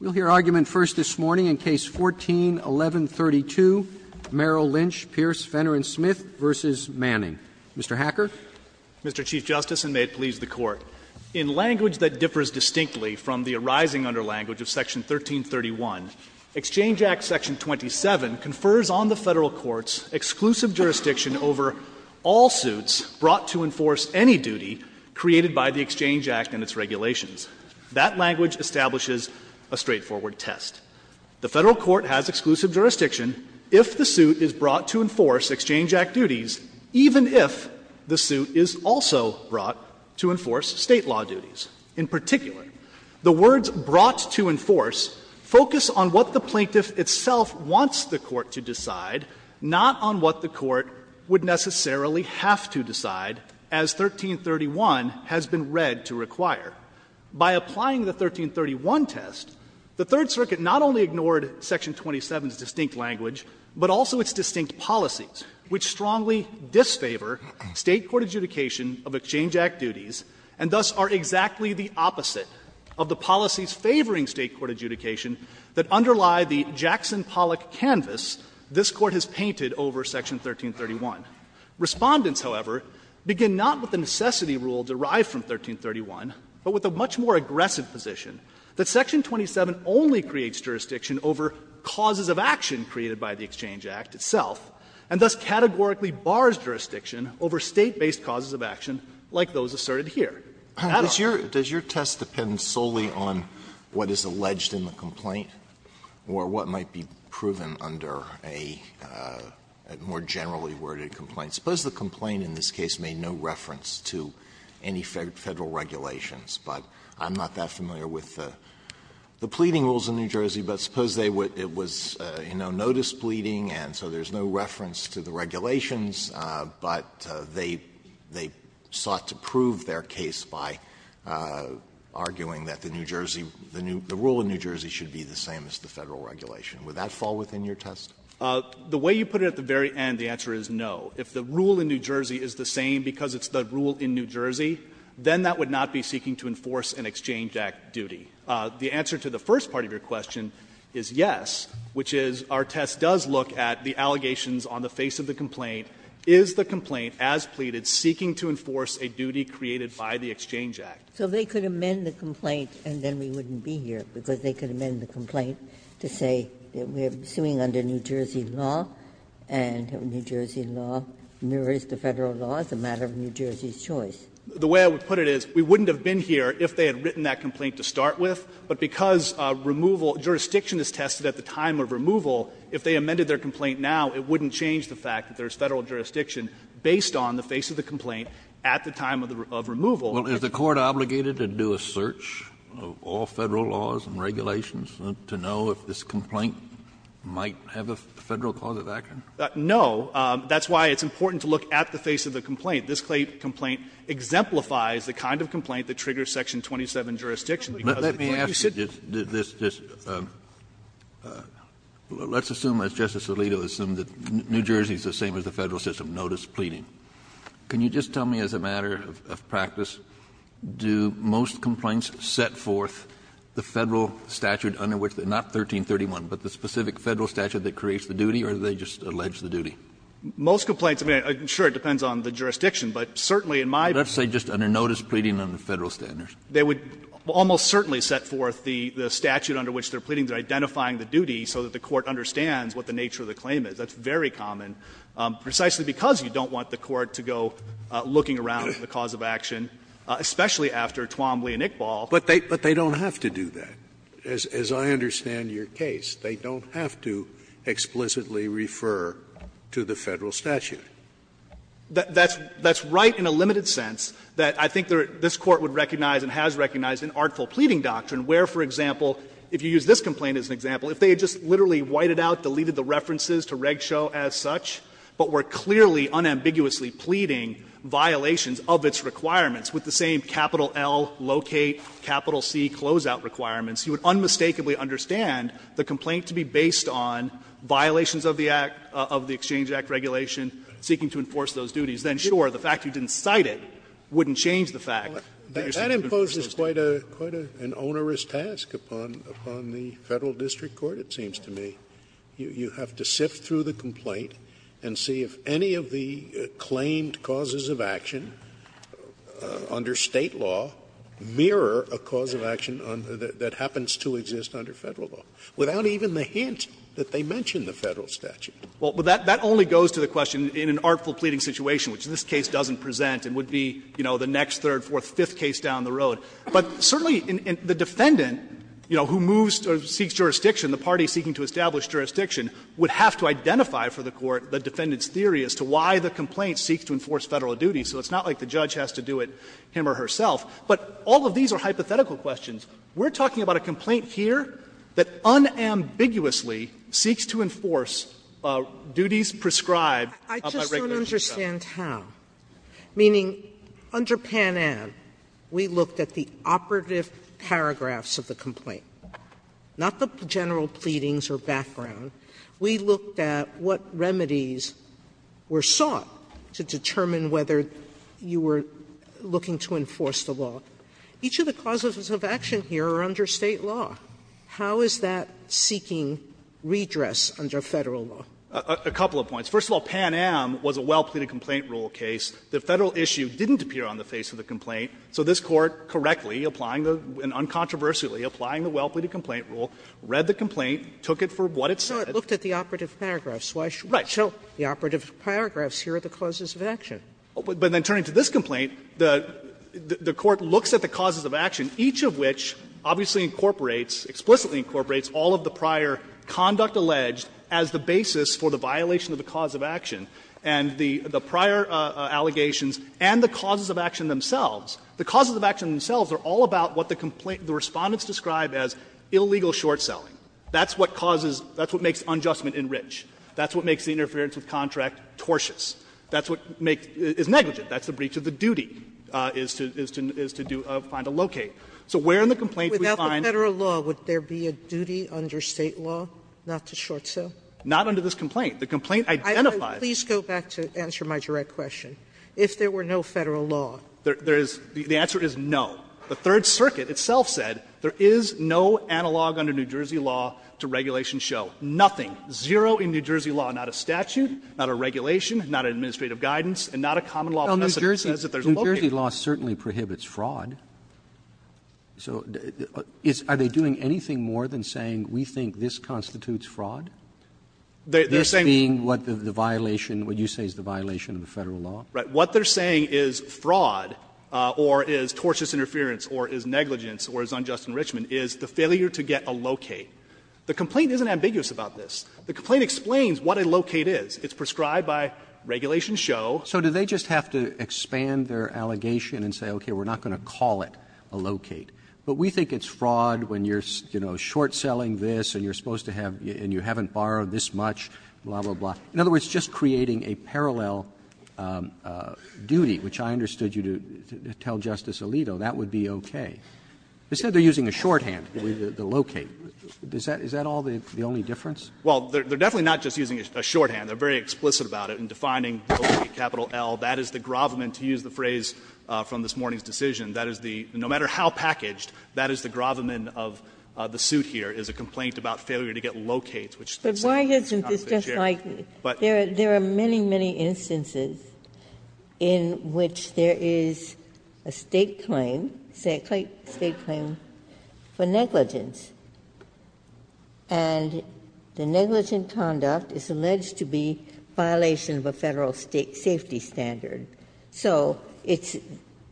We'll hear argument first this morning in Case 14-1132, Merrill Lynch, Pierce, Fenner & Smith v. Manning. Mr. Hacker. Mr. Chief Justice, and may it please the Court. In language that differs distinctly from the arising under language of Section 1331, Exchange Act Section 27 confers on the Federal courts exclusive jurisdiction over all suits brought to enforce any duty created by the Exchange Act and its regulations. That language establishes a straightforward test. The Federal court has exclusive jurisdiction if the suit is brought to enforce Exchange Act duties, even if the suit is also brought to enforce State law duties. In particular, the words brought to enforce focus on what the plaintiff itself wants the court to decide, not on what the court would necessarily have to decide, as 1331 has been read to require. By applying the 1331 test, the Third Circuit not only ignored Section 27's distinct language, but also its distinct policies, which strongly disfavor State court adjudication of Exchange Act duties, and thus are exactly the opposite of the policies favoring State court adjudication that underlie the Jackson-Pollock canvas this Court has painted over Section 1331. Respondents, however, begin not with the necessity rule derived from 1331, but with a much more aggressive position that section 27 only creates jurisdiction over causes of action created by the Exchange Act itself, and thus categorically bars jurisdiction over State-based causes of action like those asserted here. Alito. Alito. Alito Does your test depend solely on what is alleged in the complaint or what might be proven under a more generally worded complaint? Suppose the complaint in this case made no reference to any Federal regulations, but I'm not that familiar with the pleading rules in New Jersey, but suppose they would – it was, you know, no displeading, and so there's no reference to the regulations, but they sought to prove their case by arguing that the New Jersey – the rule in New Jersey should be the same as the Federal regulation, would that fall within your test? Horwich, The way you put it at the very end, the answer is no. If the rule in New Jersey is the same because it's the rule in New Jersey, then that would not be seeking to enforce an Exchange Act duty. The answer to the first part of your question is yes, which is our test does look at the allegations on the face of the complaint. Is the complaint, as pleaded, seeking to enforce a duty created by the Exchange Act? Ginsburg So they could amend the complaint and then we wouldn't be here because they could amend the complaint to say that we're suing under New Jersey law, and New Jersey law mirrors the Federal law as a matter of New Jersey's choice. Horwich, The way I would put it is we wouldn't have been here if they had written that complaint to start with, but because removal – jurisdiction is tested at the time of removal, if they amended their complaint now, it wouldn't change the fact that there's Federal jurisdiction based on the face of the complaint at the time of removal. Kennedy Well, is the Court obligated to do a search of all Federal laws and regulations to know if this complaint might have a Federal cause of action? Horwich, No. That's why it's important to look at the face of the complaint. This complaint exemplifies the kind of complaint that triggers section 27 jurisdiction because of the point you said. Kennedy Let me ask you this. Let's assume, as Justice Alito assumed, that New Jersey is the same as the Federal system, no displeading. Can you just tell me, as a matter of practice, do most complaints set forth the Federal statute under which they're not 1331, but the specific Federal statute that creates the duty, or do they just allege the duty? Horwich, Most complaints, I mean, sure, it depends on the jurisdiction, but certainly in my view. Kennedy Let's say just under notice, pleading on the Federal standards. Horwich, They would almost certainly set forth the statute under which they're pleading, they're identifying the duty, so that the Court understands what the nature of the claim is. That's very common, precisely because you don't want the Court to go looking around for the cause of action, especially after Twombly and Iqbal. Scalia But they don't have to do that, as I understand your case. They don't have to explicitly refer to the Federal statute. Horwich, That's right in a limited sense that I think this Court would recognize and has recognized an artful pleading doctrine where, for example, if you use this as such, but were clearly, unambiguously pleading violations of its requirements with the same capital L, locate, capital C, closeout requirements, you would unmistakably understand the complaint to be based on violations of the Act, of the Exchange Act regulation, seeking to enforce those duties. Then, sure, the fact you didn't cite it wouldn't change the fact that you're seeking to enforce those duties. Scalia That imposes quite an onerous task upon the Federal district court, it seems to me. You have to sift through the complaint and see if any of the claimed causes of action under State law mirror a cause of action that happens to exist under Federal law, without even the hint that they mention the Federal statute. Horwich, Well, that only goes to the question in an artful pleading situation, which this case doesn't present and would be, you know, the next, third, fourth, fifth case down the road. But certainly the defendant, you know, who moves or seeks jurisdiction, the party seeking to establish jurisdiction, would have to identify for the court the defendant's theory as to why the complaint seeks to enforce Federal duties. So it's not like the judge has to do it him or herself. But all of these are hypothetical questions. We're talking about a complaint here that unambiguously seeks to enforce duties prescribed by regulation. Sotomayor I just don't understand how. Meaning, under Pan Am, we looked at the operative paragraphs of the complaint, not the general pleadings or background. We looked at what remedies were sought to determine whether you were looking to enforce the law. Each of the causes of action here are under State law. How is that seeking redress under Federal law? Horwich, A couple of points. First of all, Pan Am was a well-pleaded complaint rule case. The Federal issue didn't appear on the face of the complaint. So this Court correctly, applying the uncontroversially, applying the well-pleaded complaint rule, read the complaint, took it for what it said. Sotomayor So it looked at the operative paragraphs. Horwich, A Right. Sotomayor So the operative paragraphs here are the causes of action. Horwich, A But then turning to this complaint, the Court looks at the causes of action, each of which obviously incorporates, explicitly incorporates, all of the prior conduct alleged as the basis for the violation of the cause of action. And the prior allegations and the causes of action themselves, the causes of action themselves are all about what the complaint, the Respondents describe as illegal short-selling. That's what causes, that's what makes unjustment in rich. That's what makes the interference with contract tortious. That's what makes, is negligent. That's the breach of the duty, is to do, find a locate. So where in the complaint do we find? Sotomayor Without the Federal law, would there be a duty under State law not to short-sell? Horwich, A Not under this complaint. The complaint identifies. Sotomayor Please go back to answer my direct question. If there were no Federal law. Horwich, A There is, the answer is no. The Third Circuit itself said there is no analog under New Jersey law to regulation show. Nothing. Zero in New Jersey law. Not a statute, not a regulation, not an administrative guidance, and not a common law precedent that says that there's a locate. Roberts, New Jersey law certainly prohibits fraud. So are they doing anything more than saying we think this constitutes fraud? This being what the violation, what you say is the violation of the Federal law? Horwich, A What they're saying is fraud, or is tortious interference, or is negligence, or is unjust enrichment, is the failure to get a locate. The complaint isn't ambiguous about this. The complaint explains what a locate is. It's prescribed by regulation show. Roberts, New Jersey law So do they just have to expand their allegation and say, okay, we're not going to call it a locate, but we think it's fraud when you're, you know, short-selling this, and you're supposed to have, and you haven't borrowed this much, blah, blah, blah. In other words, just creating a parallel duty, which I understood you to tell Justice Alito, that would be okay. They said they're using a shorthand, the locate. Is that all the only difference? Horwich, A Well, they're definitely not just using a shorthand. They're very explicit about it in defining locate, capital L. That is the gravamen, to use the phrase from this morning's decision. That is the, no matter how packaged, that is the gravamen of the suit here, is a complaint about failure to get locates, which they say is not the case here. Ginsburg But why isn't this just like, there are many, many instances in which there is a State claim, a State claim for negligence, and the negligent conduct is alleged to be violation of a Federal safety standard. So it's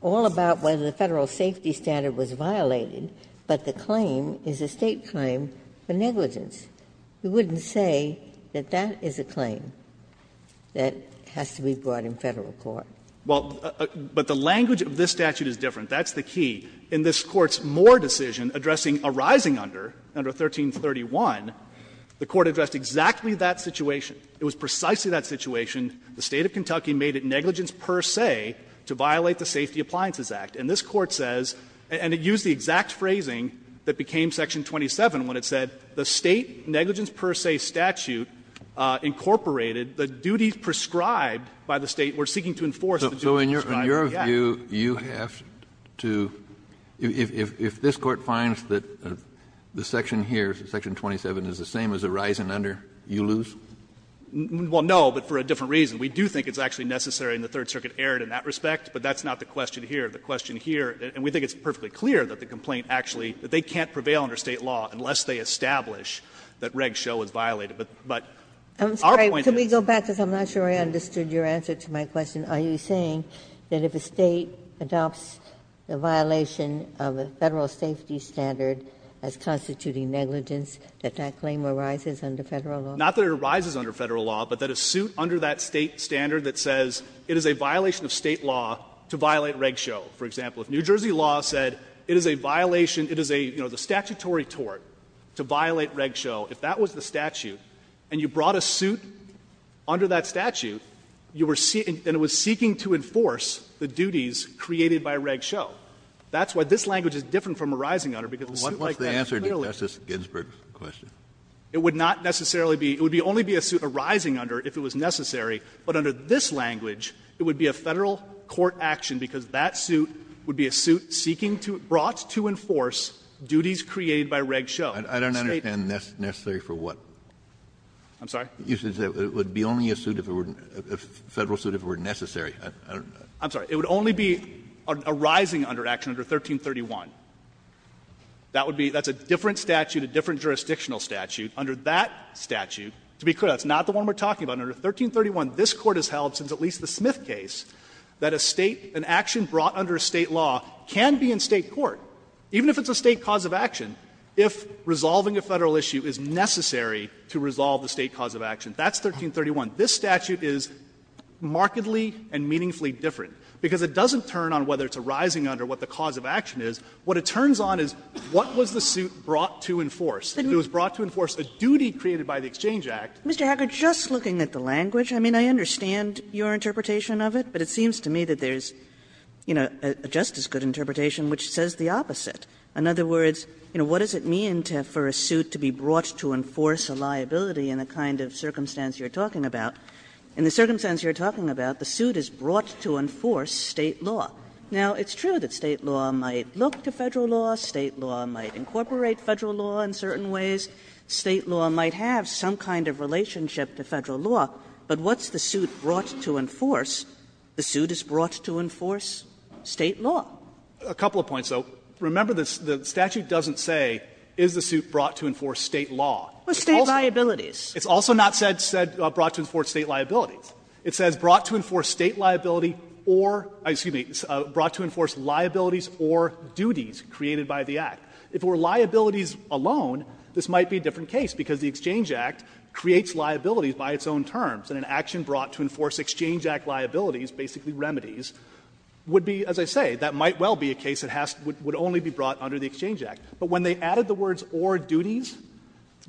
all about whether the Federal safety standard was violated, but the claim is a State claim for negligence. You wouldn't say that that is a claim that has to be brought in Federal court. Horwich, A Well, but the language of this statute is different. That's the key. In this Court's Moore decision addressing a rising under, under 1331, the Court addressed exactly that situation. It was precisely that situation. The State of Kentucky made it negligence per se to violate the Safety Appliances Act. And this Court says, and it used the exact phrasing that became section 27 when it said the State negligence per se statute incorporated the duties prescribed by the State were seeking to enforce the duties prescribed by the Act. Kennedy So in your view, you have to, if this Court finds that the section here, section 27, is the same as a rising under, you lose? Horwich, A Well, no, but for a different reason. We do think it's actually necessary and the Third Circuit erred in that respect, but that's not the question here. The question here, and we think it's perfectly clear that the complaint actually they can't prevail under State law unless they establish that Reg Show is violated. But our point is that Ginsburg I'm sorry, can we go back, because I'm not sure I understood your answer to my question. Are you saying that if a State adopts a violation of a Federal safety standard as constituting negligence, that that claim arises under Federal law? Horwich, A Not that it arises under Federal law, but that a suit under that State standard that says it is a violation of State law to violate Reg Show. For example, if New Jersey law said it is a violation, it is a, you know, the statutory tort to violate Reg Show, if that was the statute and you brought a suit under that statute, you were seeking, and it was seeking to enforce the duties created by Reg Show. That's why this language is different from a rising under, because the suit like that clearly. Kennedy What's the answer to Justice Ginsburg's question? Horwich, A Not It would not necessarily be, it would only be a suit arising under if it was necessary, but under this language, it would be a Federal court action because that suit would be a suit seeking to, brought to enforce duties created by Reg Show. Kennedy I don't understand necessary for what? Horwich, A Not I'm sorry? Kennedy You said it would be only a suit if it were, a Federal suit if it were necessary. Horwich, A Not I'm sorry. It would only be a rising under action under 1331. That would be, that's a different statute, a different jurisdictional statute. Under that statute, to be clear, that's not the one we're talking about. Under 1331, this Court has held since at least the Smith case that a State, an action brought under a State law can be in State court, even if it's a State cause of action, if resolving a Federal issue is necessary to resolve the State cause of action. That's 1331. This statute is markedly and meaningfully different, because it doesn't turn on whether it's a rising under what the cause of action is. What it turns on is what was the suit brought to enforce. If it was brought to enforce a duty created by the Exchange Act. Kagan Mr. Hacker, just looking at the language, I mean, I understand your interpretation of it, but it seems to me that there's, you know, a just as good interpretation which says the opposite. In other words, you know, what does it mean for a suit to be brought to enforce a liability in the kind of circumstance you're talking about? In the circumstance you're talking about, the suit is brought to enforce State law. Now, it's true that State law might look to Federal law, State law might incorporate Federal law in certain ways, State law might have some kind of relationship to Federal law, but what's the suit brought to enforce? The suit is brought to enforce State law. Fisherman A couple of points, though. Remember, the statute doesn't say is the suit brought to enforce State law. Kagan It's State liabilities. Fisherman It's also not said brought to enforce State liabilities. It says brought to enforce State liability or, excuse me, brought to enforce liabilities or duties created by the Act. If it were liabilities alone, this might be a different case, because the Exchange Act creates liabilities by its own terms, and an action brought to enforce Exchange Act liabilities, basically remedies, would be, as I say, that might well be a case that would only be brought under the Exchange Act. But when they added the words or duties,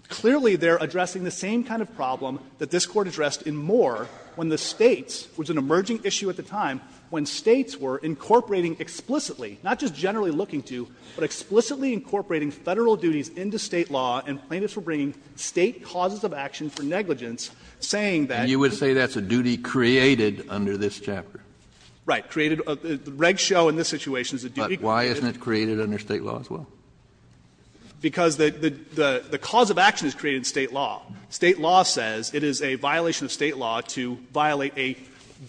clearly they're addressing the same kind of problem that this Court addressed in Moore when the States, which was an emerging issue at the time, when States were incorporating explicitly, not just generally looking to, but explicitly incorporating Federal duties into State law and plaintiffs were bringing State causes of action for negligence, saying that you would say that's a duty created under this chapter. Fisherman Right. The reg show in this situation is a duty created under State law. Kennedy But why isn't it created under State law as well? Fisherman Because the cause of action is created in State law. State law says it is a violation of State law to violate a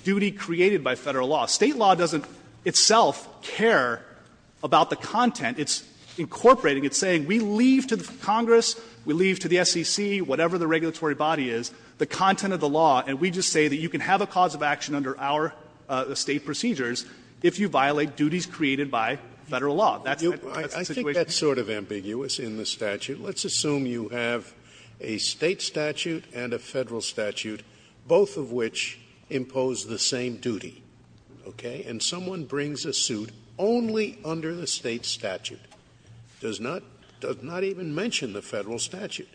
duty created by Federal law. State law doesn't itself care about the content. It's incorporating. It's saying we leave to Congress, we leave to the SEC, whatever the regulatory body is, the content of the law, and we just say that you can have a cause of action under our State procedures if you violate duties created by Federal law. That's the situation. Scalia I think that's sort of ambiguous in the statute. Let's assume you have a State statute and a Federal statute, both of which impose the same duty, okay? And someone brings a suit only under the State statute, does not even mention the Federal statute.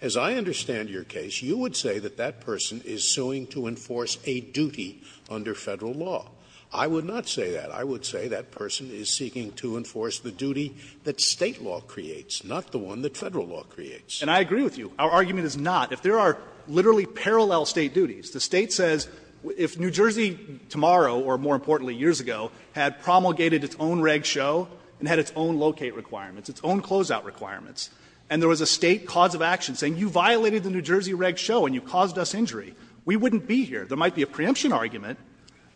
As I understand your case, you would say that that person is suing to enforce a duty under Federal law. I would not say that. I would say that person is seeking to enforce the duty that State law creates, not the one that Federal law creates. Fisher And I agree with you. Our argument is not. If there are literally parallel State duties, the State says if New Jersey tomorrow or, more importantly, years ago, had promulgated its own reg show and had its own locate requirements, its own closeout requirements, and there was a State cause of action saying you violated the New Jersey reg show and you caused us injury, we wouldn't be here. There might be a preemption argument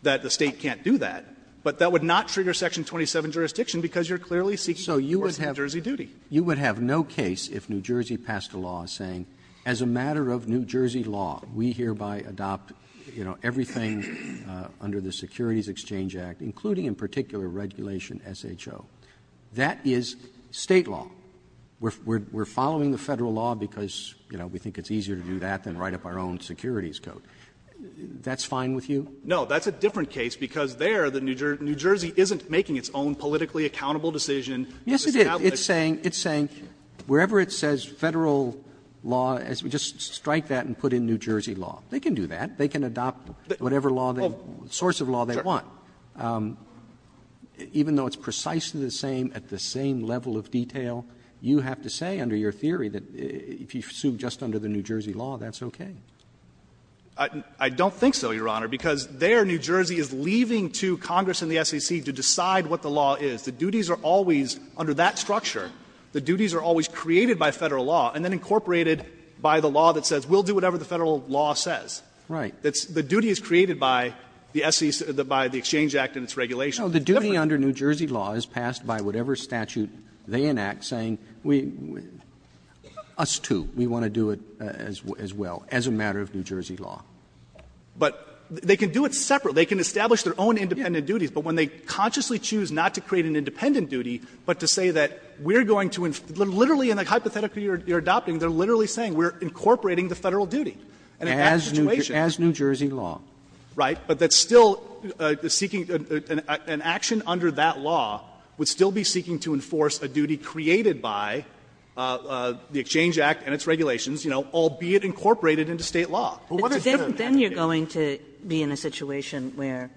that the State can't do that, but that would not trigger section 27 jurisdiction because you're clearly seeking to enforce a New Jersey duty. You would have no case if New Jersey passed a law saying, as a matter of New Jersey law, we hereby adopt, you know, everything under the Securities Exchange Act, including in particular regulation SHO. That is State law. We're following the Federal law because, you know, we think it's easier to do that than write up our own securities code. That's fine with you? Fisher No. That's a different case because there, New Jersey isn't making its own politically accountable decision. Roberts Yes, it is. Roberts It's saying wherever it says Federal law, just strike that and put in New Jersey law. They can do that. They can adopt whatever law they want, source of law they want. Even though it's precisely the same at the same level of detail, you have to say under your theory that if you sue just under the New Jersey law, that's okay. Fisher I don't think so, Your Honor, because there, New Jersey is leaving to Congress and the SEC to decide what the law is. The duties are always, under that structure, the duties are always created by Federal law and then incorporated by the law that says we'll do whatever the Federal law says. Roberts Right. Fisher The duty is created by the SEC, by the Exchange Act and its regulations. Roberts No. The duty under New Jersey law is passed by whatever statute they enact saying we, us too, we want to do it as well, as a matter of New Jersey law. Fisher But they can do it separate. They can establish their own independent duties. But when they consciously choose not to create an independent duty, but to say that we're going to, literally in the hypothetical you're adopting, they're literally saying we're incorporating the Federal duty. And in that situation. Roberts As New Jersey law. Fisher Right. But that's still seeking an action under that law would still be seeking to enforce a duty created by the Exchange Act and its regulations, you know, albeit incorporated into State law. But what's the difference? Kagan Then you're going to be in a situation where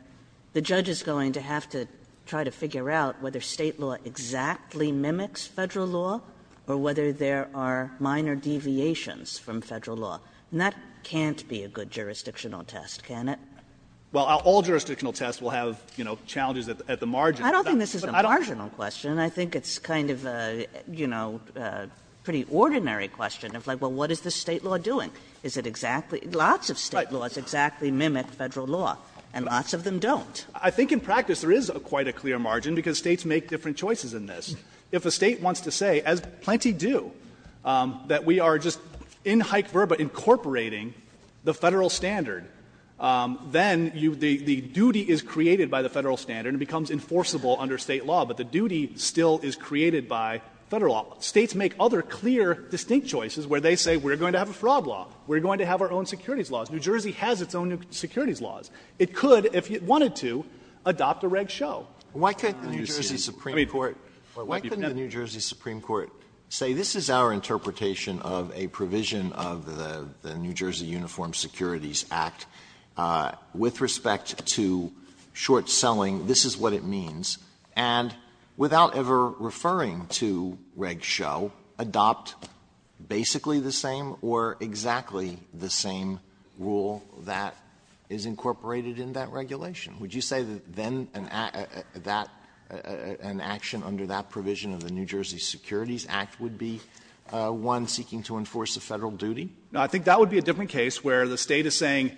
the judge is going to have to try to figure out whether State law exactly mimics Federal law or whether there are minor deviations from Federal law. And that can't be a good jurisdictional test, can it? Fisher Well, all jurisdictional tests will have, you know, challenges at the margin. Kagan I don't think this is a marginal question. I think it's kind of a, you know, pretty ordinary question of like, well, what is the State law doing? Is it exactly, lots of State laws exactly mimic Federal law, and lots of them don't. Fisher I think in practice there is quite a clear margin, because States make different choices in this. If a State wants to say, as plenty do, that we are just in hyc verba incorporating the Federal standard, then you, the duty is created by the Federal standard and becomes enforceable under State law, but the duty still is created by Federal law. States make other clear, distinct choices where they say we are going to have a fraud law, we are going to have our own securities laws. New Jersey has its own securities laws. It could, if it wanted to, adopt a reg show. Alito Why couldn't the New Jersey Supreme Court say this is our interpretation of a provision of the New Jersey Uniform Securities Act with respect to short-selling, this is what it means, and without ever referring to reg show, adopt basically the same or exactly the same rule that is incorporated in that regulation? Would you say that then an action under that provision of the New Jersey Securities Act would be one seeking to enforce a Federal duty? Fisher I think that would be a different case where the State is saying,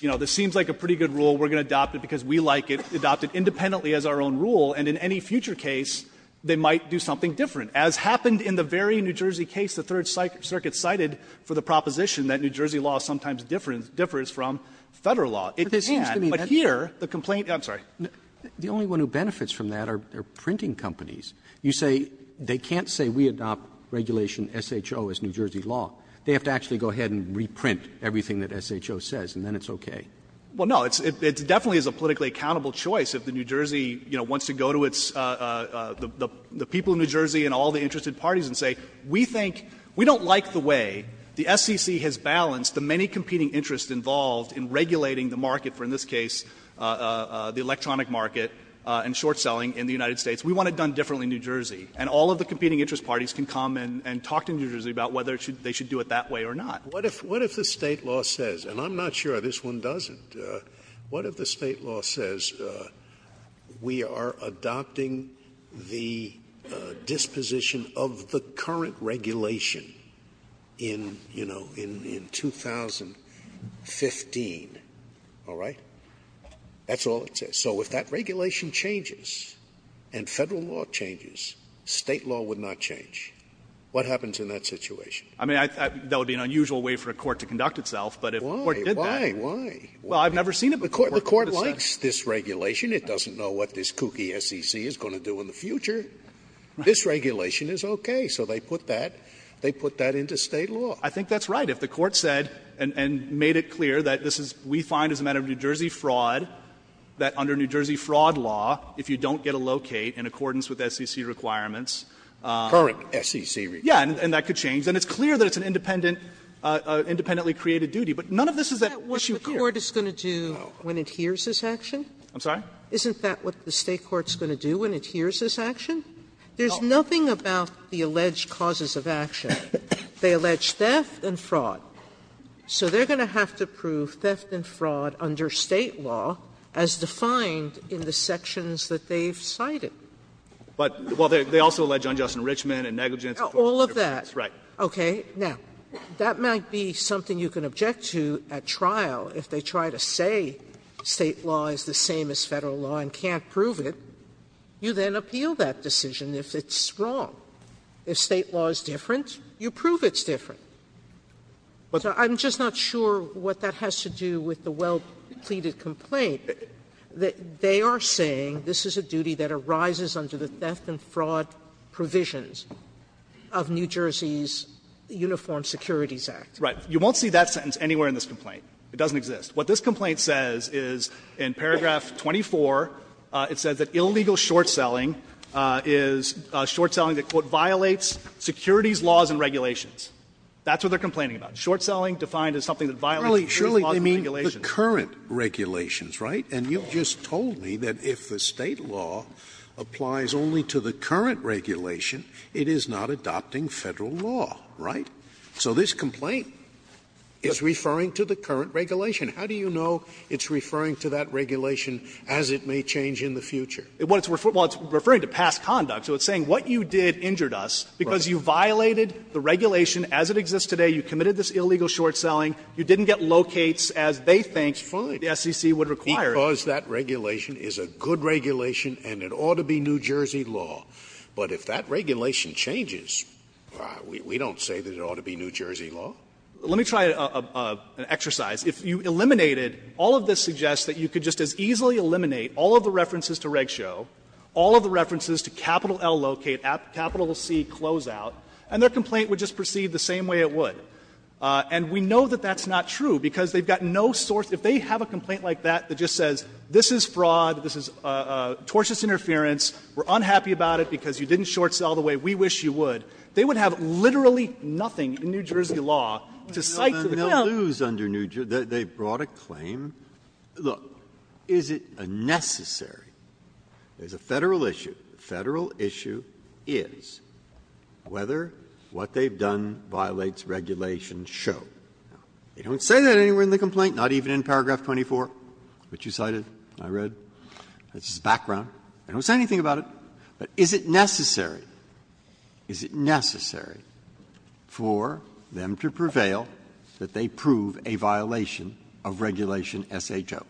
you know, this seems like a pretty good rule. We are going to adopt it because we like it, adopt it independently as our own rule, and in any future case, they might do something different. As happened in the very New Jersey case the Third Circuit cited for the proposition that New Jersey law sometimes differs from Federal law. It can't, but here the complaint, I'm sorry. Roberts The only one who benefits from that are printing companies. You say they can't say we adopt regulation SHO as New Jersey law. They have to actually go ahead and reprint everything that SHO says, and then it's okay. Fisher Well, no. It definitely is a politically accountable choice if the New Jersey, you know, wants to go to its, the people of New Jersey and all the interested parties and say we think we don't like the way the SEC has balanced the many competing interests involved in regulating the market for, in this case, the electronic market and short-selling in the United States. We want it done differently in New Jersey. And all of the competing interest parties can come and talk to New Jersey about whether they should do it that way or not. Scalia What if the State law says, and I'm not sure this one doesn't, what if the State law says we are adopting the disposition of the current regulation in, you know, in 2015, all right? That's all it says. So if that regulation changes and Federal law changes, State law would not change. What happens in that situation? Fisher I mean, that would be an unusual way for a court to conduct itself, but if a court did that. Scalia Why? Why? Why? Fisher Well, I've never seen it before. Scalia The court likes this regulation. It doesn't know what this kooky SEC is going to do in the future. This regulation is okay. So they put that, they put that into State law. Fisher I think that's right. If the court said and made it clear that this is, we find as a matter of New Jersey fraud, that under New Jersey fraud law, if you don't get a locate in accordance with SEC requirements. Scalia Current SEC requirements. Fisher Yes. And that could change. And it's clear that it's an independent, independently created duty. But none of this is at issue here. Sotomayor That's what the court is going to do when it hears this action? Fisher I'm sorry? Sotomayor Isn't that what the State court is going to do when it hears this action? There's nothing about the alleged causes of action. They allege theft and fraud. So they're going to have to prove theft and fraud under State law as defined in the sections that they've cited. Fisher But, well, they also allege unjust enrichment and negligence. Sotomayor All of that. Sotomayor Okay. Now, that might be something you can object to at trial if they try to say State law is the same as Federal law and can't prove it. You then appeal that decision if it's wrong. If State law is different, you prove it's different. I'm just not sure what that has to do with the well-pleaded complaint. They are saying this is a duty that arises under the theft and fraud provisions. Sotomayor Of New Jersey's Uniform Securities Act. Fisher Right. You won't see that sentence anywhere in this complaint. It doesn't exist. What this complaint says is in paragraph 24, it says that illegal short-selling is short-selling that, quote, violates securities laws and regulations. That's what they're complaining about. Short-selling defined as something that violates securities laws and regulations. Scalia Surely they mean the current regulations, right? And you've just told me that if the State law applies only to the current regulation, it is not adopting Federal law, right? So this complaint is referring to the current regulation. How do you know it's referring to that regulation as it may change in the future? Fisher Well, it's referring to past conduct. So it's saying what you did injured us because you violated the regulation as it exists today. You committed this illegal short-selling. You didn't get locates as they think the SEC would require. Scalia Because that regulation is a good regulation and it ought to be New Jersey law. But if that regulation changes, we don't say that it ought to be New Jersey law. Fisher Let me try an exercise. If you eliminated, all of this suggests that you could just as easily eliminate all of the references to Reg Show, all of the references to capital L locate, capital C closeout, and their complaint would just proceed the same way it would. And we know that that's not true, because they've got no source. If they have a complaint like that that just says this is fraud, this is tortious interference, we're unhappy about it because you didn't short-sell the way we wish you would, they would have literally nothing in New Jersey law to cite to the film. Breyer They'll lose under New Jersey law. They've brought a claim. Look, is it necessary? There's a Federal issue. The Federal issue is whether what they've done violates Regulation Show. They don't say that anywhere in the complaint, not even in paragraph 24, which you cited, I read. It's just background. They don't say anything about it. But is it necessary, is it necessary for them to prevail that they prove a violation of Regulation S.H.O.? Fisher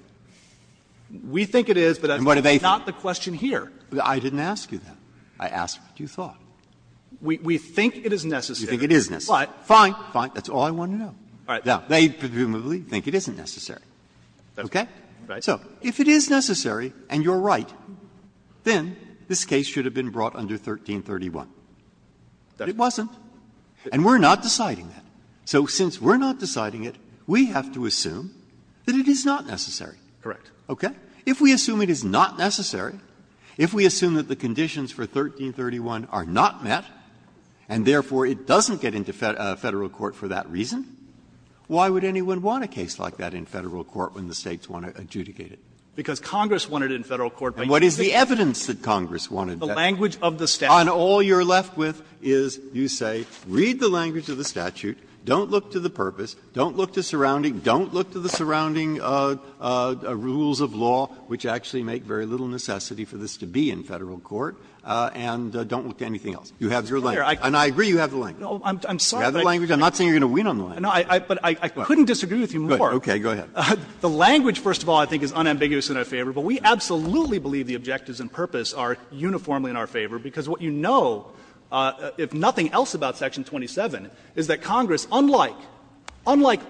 We think it is, but that's not the question here. Breyer I didn't ask you that. I asked what you thought. Fisher We think it is necessary. Breyer You think it is necessary. Fisher But, fine. Breyer Fine. That's all I wanted to know. Now, they presumably think it isn't necessary. Okay? So if it is necessary and you're right, then this case should have been brought under 1331. But it wasn't. And we're not deciding that. So since we're not deciding it, we have to assume that it is not necessary. Okay? If we assume it is not necessary, if we assume that the conditions for 1331 are not met, and therefore it doesn't get into Federal court for that reason, why would anyone want a case like that in Federal court when the States want to adjudicate it? Fisher Because Congress wanted it in Federal court. Breyer And what is the evidence that Congress wanted that? Fisher The language of the statute. Breyer And all you're left with is you say, read the language of the statute, don't look to the purpose, don't look to surrounding, don't look to the surrounding rules of law, which actually make very little necessity for this to be in Federal court, and don't look to anything else. You have your language. And I agree you have the language. Fisher No, I'm sorry, but I can't. Breyer You have the language. I'm not saying you're going to win on the language. Fisher No, but I couldn't disagree with you more. Breyer Okay, go ahead. Fisher The language, first of all, I think is unambiguous in our favor, but we absolutely believe the objectives and purpose are uniformly in our favor, because what you know, if nothing else, about Section 27, is that Congress, unlike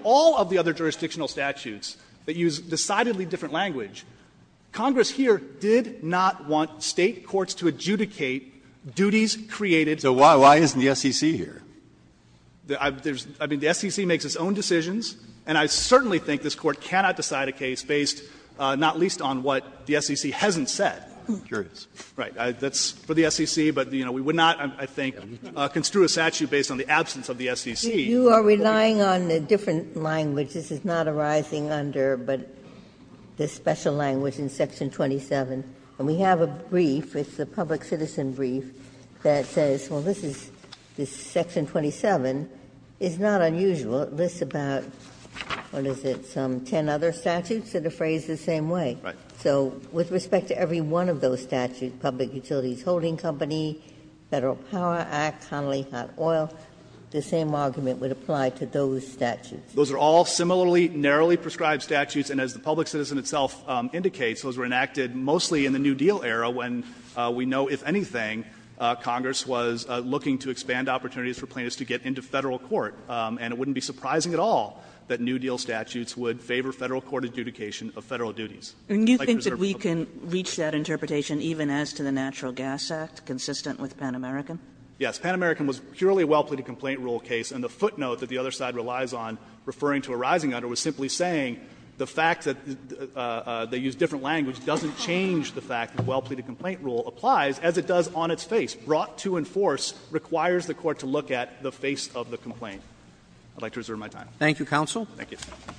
all of the other jurisdictional statutes that use decidedly different language, Congress here did not want State courts to adjudicate duties created by Federal courts. Breyer So why isn't the SEC here? I mean, the SEC makes its own decisions, and I certainly think this Court cannot decide a case based not least on what the SEC hasn't said. Fisher Sure it is. Breyer Right. That's for the SEC, but we would not, I think, construe a statute based on the absence of the SEC. Ginsburg You are relying on a different language. This is not arising under the special language in Section 27. And we have a brief, it's a public citizen brief, that says, well, this is, this Section 27 is not unusual. It lists about, what is it, some ten other statutes that are phrased the same way. Fisher Right. Ginsburg So with respect to every one of those statutes, public utilities holding company, Federal Power Act, Connolly Hot Oil, the same argument would apply to those statutes. Fisher Those are all similarly narrowly prescribed statutes, and as the public citizen itself indicates, those were enacted mostly in the New Deal era when we know, if anything, Congress was looking to expand opportunities for plaintiffs to get into Federal court. And it wouldn't be surprising at all that New Deal statutes would favor Federal court adjudication of Federal duties. Kagan And you think that we can reach that interpretation even as to the Natural Gas Act, consistent with Pan American? Fisher Yes. Pan American was purely a well-pleaded complaint rule case, and the footnote that the other side relies on, referring to a rising under, was simply saying the fact that they use different language doesn't change the fact that the well-pleaded complaint rule applies, as it does on its face. Brought to enforce requires the Court to look at the face of the complaint. I would like to reserve my time. Roberts Thank you, counsel. Fisher Thank you.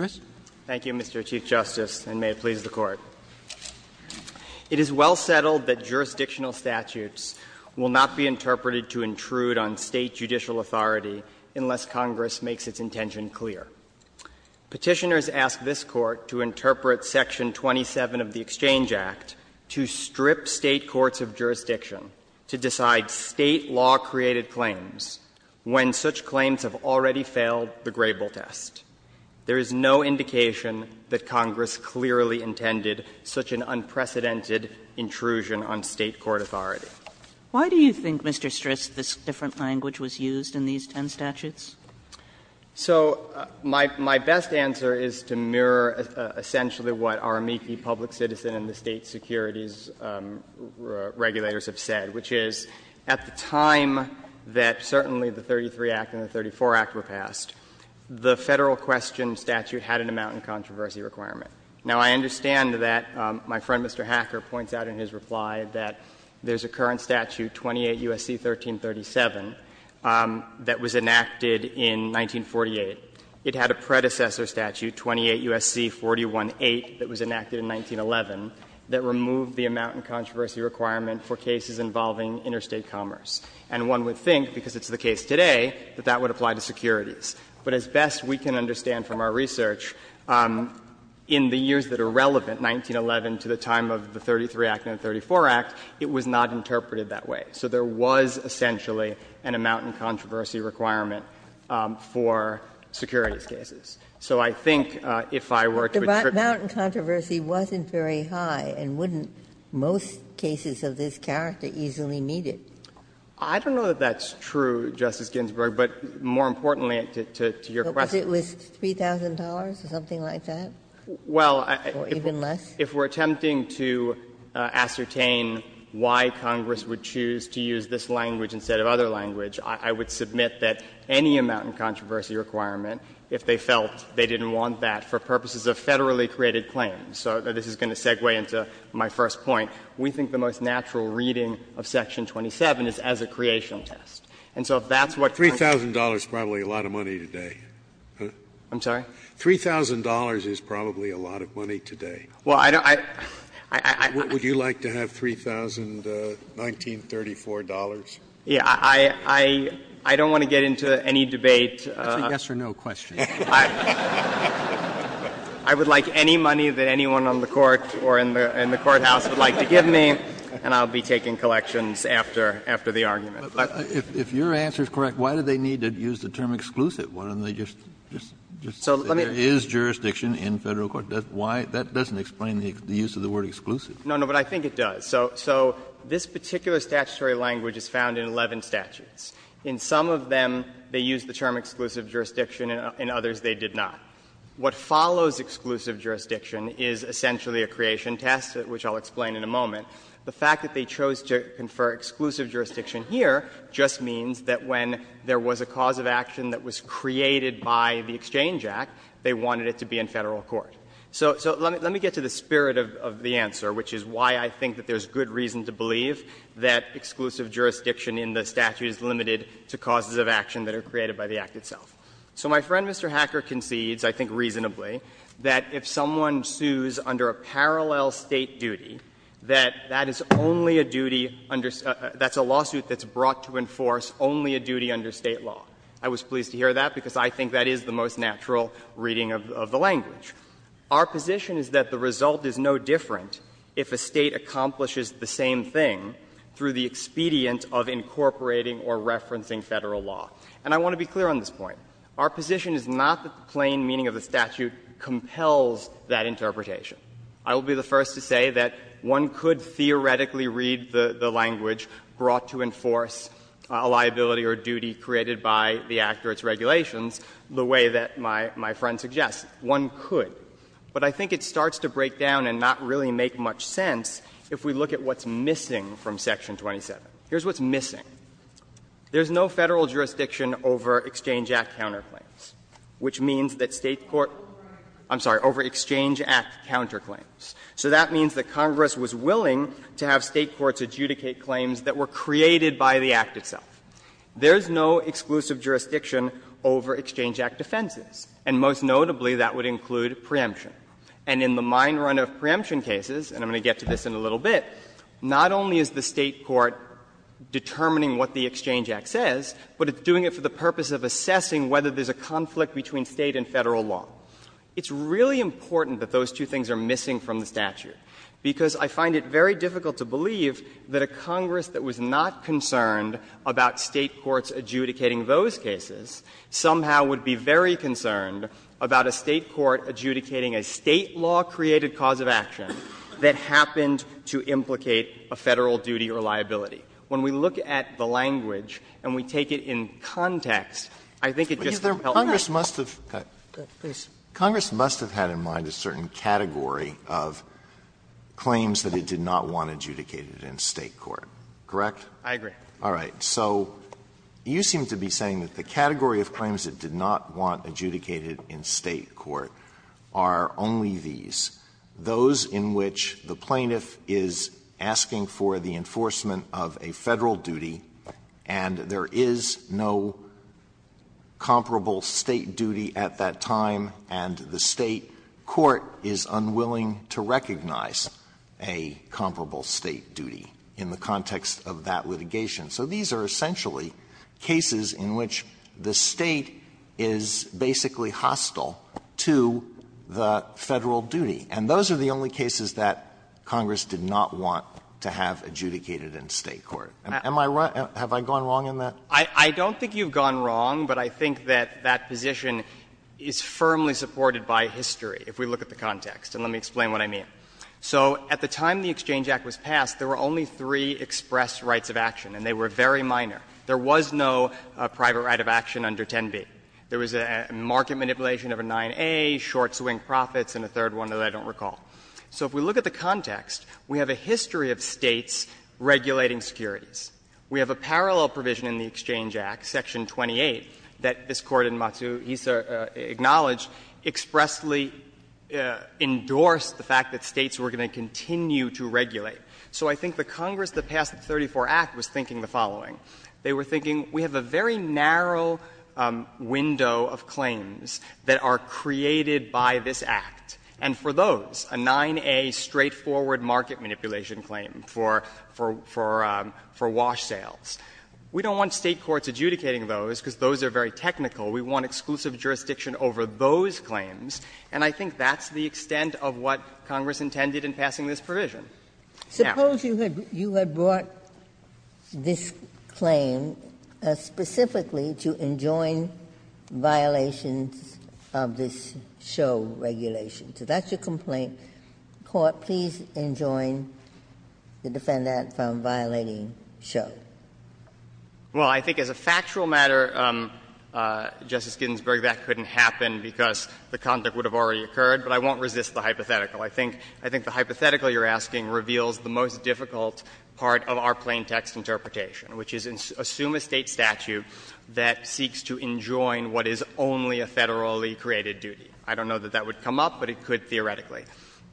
Roberts Thank you, Mr. Chief Justice. And may it please the Court. It is well settled that jurisdictional statutes will not be interpreted to intrude on State judicial authority unless Congress makes its intention clear. Petitioners ask this Court to interpret section 27 of the Exchange Act to strip State courts of jurisdiction to decide State law-created claims when such claims have already failed the Grable test. There is no indication that Congress clearly intended such an unprecedented intrusion on State court authority. Kagan Why do you think, Mr. Stris, this different language was used in these ten statutes? Fisher So my best answer is to mirror essentially what Aramiki Public Citizen and the State securities regulators have said, which is at the time that certainly the 33 Act and the 34 Act were passed, the Federal question statute had an amount in controversy requirement. Now, I understand that my friend, Mr. Hacker, points out in his reply that there is a current statute, 28 U.S.C. 1337, that was enacted in 1948. It had a predecessor statute, 28 U.S.C. 418, that was enacted in 1911, that removed the amount in controversy requirement for cases involving interstate commerce. And one would think, because it's the case today, that that would apply to securities. But as best we can understand from our research, in the years that are relevant, 1911 to the time of the 33 Act and the 34 Act, it was not interpreted that way. So there was essentially an amount in controversy requirement for securities cases. So I think if I were to attribute to that. Ginsburg But the amount in controversy wasn't very high, and wouldn't most cases of this character easily meet it. I don't know that that's true, Justice Ginsburg, but more importantly to your question. Ginsburg Because it was $3,000 or something like that? Or even less? Well, if we're attempting to ascertain why Congress would choose to use this language instead of other language, I would submit that any amount in controversy requirement if they felt they didn't want that for purposes of Federally created claims. So this is going to segue into my first point. We think the most natural reading of Section 27 is as a creation test. And so if that's what Congress would choose to use. Scalia $3,000 is probably a lot of money today. I'm sorry? $3,000 is probably a lot of money today. Well, I don't – I – I – I – I – Would you like to have $3,000, 1934? Yeah. I don't want to get into any debate. That's a yes or no question. I would like any money that anyone on the Court or in the courthouse would like to give me, and I'll be taking collections after the argument. But if your answer is correct, why do they need to use the term exclusive? Why don't they just say there is jurisdiction in Federal court? That doesn't explain the use of the word exclusive. No, no, but I think it does. So this particular statutory language is found in 11 statutes. In some of them they use the term exclusive jurisdiction, in others they did not. What follows exclusive jurisdiction is essentially a creation test, which I'll explain in a moment. The fact that they chose to confer exclusive jurisdiction here just means that when there was a cause of action that was created by the Exchange Act, they wanted it to be in Federal court. So let me get to the spirit of the answer, which is why I think that there's good reason to believe that exclusive jurisdiction in the statute is limited to causes of action that are created by the Act itself. So my friend, Mr. Hacker, concedes, I think reasonably, that if someone sues under a parallel State duty, that that is only a duty under — that's a lawsuit that's brought to enforce only a duty under State law. I was pleased to hear that, because I think that is the most natural reading of the language. Our position is that the result is no different if a State accomplishes the same thing through the expedient of incorporating or referencing Federal law. And I want to be clear on this point. Our position is not that the plain meaning of the statute compels that interpretation. I will be the first to say that one could theoretically read the language brought to enforce a liability or duty created by the Act or its regulations the way that my friend suggests. One could. But I think it starts to break down and not really make much sense if we look at what's missing from Section 27. Here's what's missing. There's no Federal jurisdiction over Exchange Act counterclaims, which means that State court — I'm sorry, over Exchange Act counterclaims. So that means that Congress was willing to have State courts adjudicate claims that were created by the Act itself. There's no exclusive jurisdiction over Exchange Act defenses, and most notably that would include preemption. And in the mine run of preemption cases, and I'm going to get to this in a little bit, not only is the State court determining what the Exchange Act says, but it's doing it for the purpose of assessing whether there's a conflict between State and Federal law. It's really important that those two things are missing from the statute, because I find it very difficult to believe that a Congress that was not concerned about State courts adjudicating those cases somehow would be very concerned about a State court adjudicating a State law-created cause of action that happened to implicate a Federal duty or liability. When we look at the language and we take it in context, I think it just doesn't help much. Alito, Congress must have had in mind a certain category of claims that it did not want adjudicated in State court, correct? I agree. All right. So you seem to be saying that the category of claims it did not want adjudicated in State court are only these, those in which the plaintiff is asking for the enforcement of a Federal duty, and there is no comparable State duty at that time, and the State court is unwilling to recognize a comparable State duty in the context of that litigation. So these are essentially cases in which the State is basically hostile to the Federal duty, and those are the only cases that Congress did not want to have adjudicated in State court. Am I right? Have I gone wrong in that? I don't think you've gone wrong, but I think that that position is firmly supported by history, if we look at the context, and let me explain what I mean. So at the time the Exchange Act was passed, there were only three express rights of action, and they were very minor. There was no private right of action under 10b. There was a market manipulation of a 9a, short swing profits, and a third one that I don't recall. So if we look at the context, we have a history of States regulating securities. We have a parallel provision in the Exchange Act, section 28, that this Court in Matsu Hisa acknowledged expressly endorsed the fact that States were going to continue to regulate. So I think the Congress that passed the 34 Act was thinking the following. They were thinking we have a very narrow window of claims that are created by this Act, and for those, a 9a straightforward market manipulation claim for wash sales. We don't want State courts adjudicating those, because those are very technical. We want exclusive jurisdiction over those claims, and I think that's the extent of what Congress intended in passing this provision. Now you have brought this claim specifically to enjoin violations of this show regulation. So that's your complaint. Court, please enjoin the defendant from violating show. Well, I think as a factual matter, Justice Ginsburg, that couldn't happen because the conduct would have already occurred, but I won't resist the hypothetical. I think the hypothetical you're asking reveals the most difficult part of our plain text interpretation, which is assume a State statute that seeks to enjoin what is only a federally created duty. I don't know that that would come up, but it could theoretically.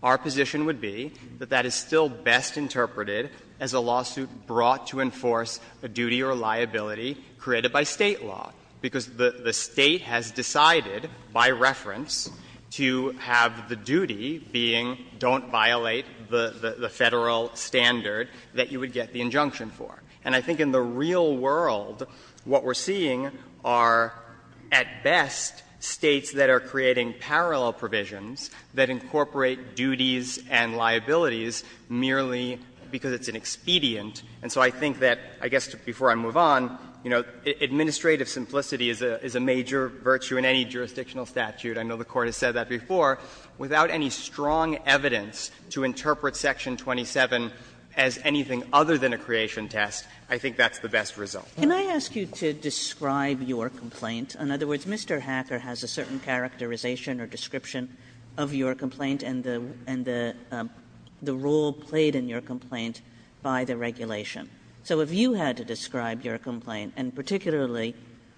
Our position would be that that is still best interpreted as a lawsuit brought to enforce a duty or liability created by State law, because the State has decided by reference to have the duty being don't violate the Federal standard that you would get the injunction for. And I think in the real world, what we're seeing are, at best, States that are creating parallel provisions that incorporate duties and liabilities merely because it's an expedient. And so I think that, I guess, before I move on, you know, administrative simplicity is a major virtue in any jurisdictional statute. I know the Court has said that before. Without any strong evidence to interpret section 27 as anything other than a creation test, I think that's the best result. Kagan. Kagan. Kagan. Kagan. Kagan. Kagan. Kagan. In other words, Mr. Hacker has a certain characterization or description of your complaint and the role played in your complaint by the regulation. So if you had to describe your complaint, and particularly,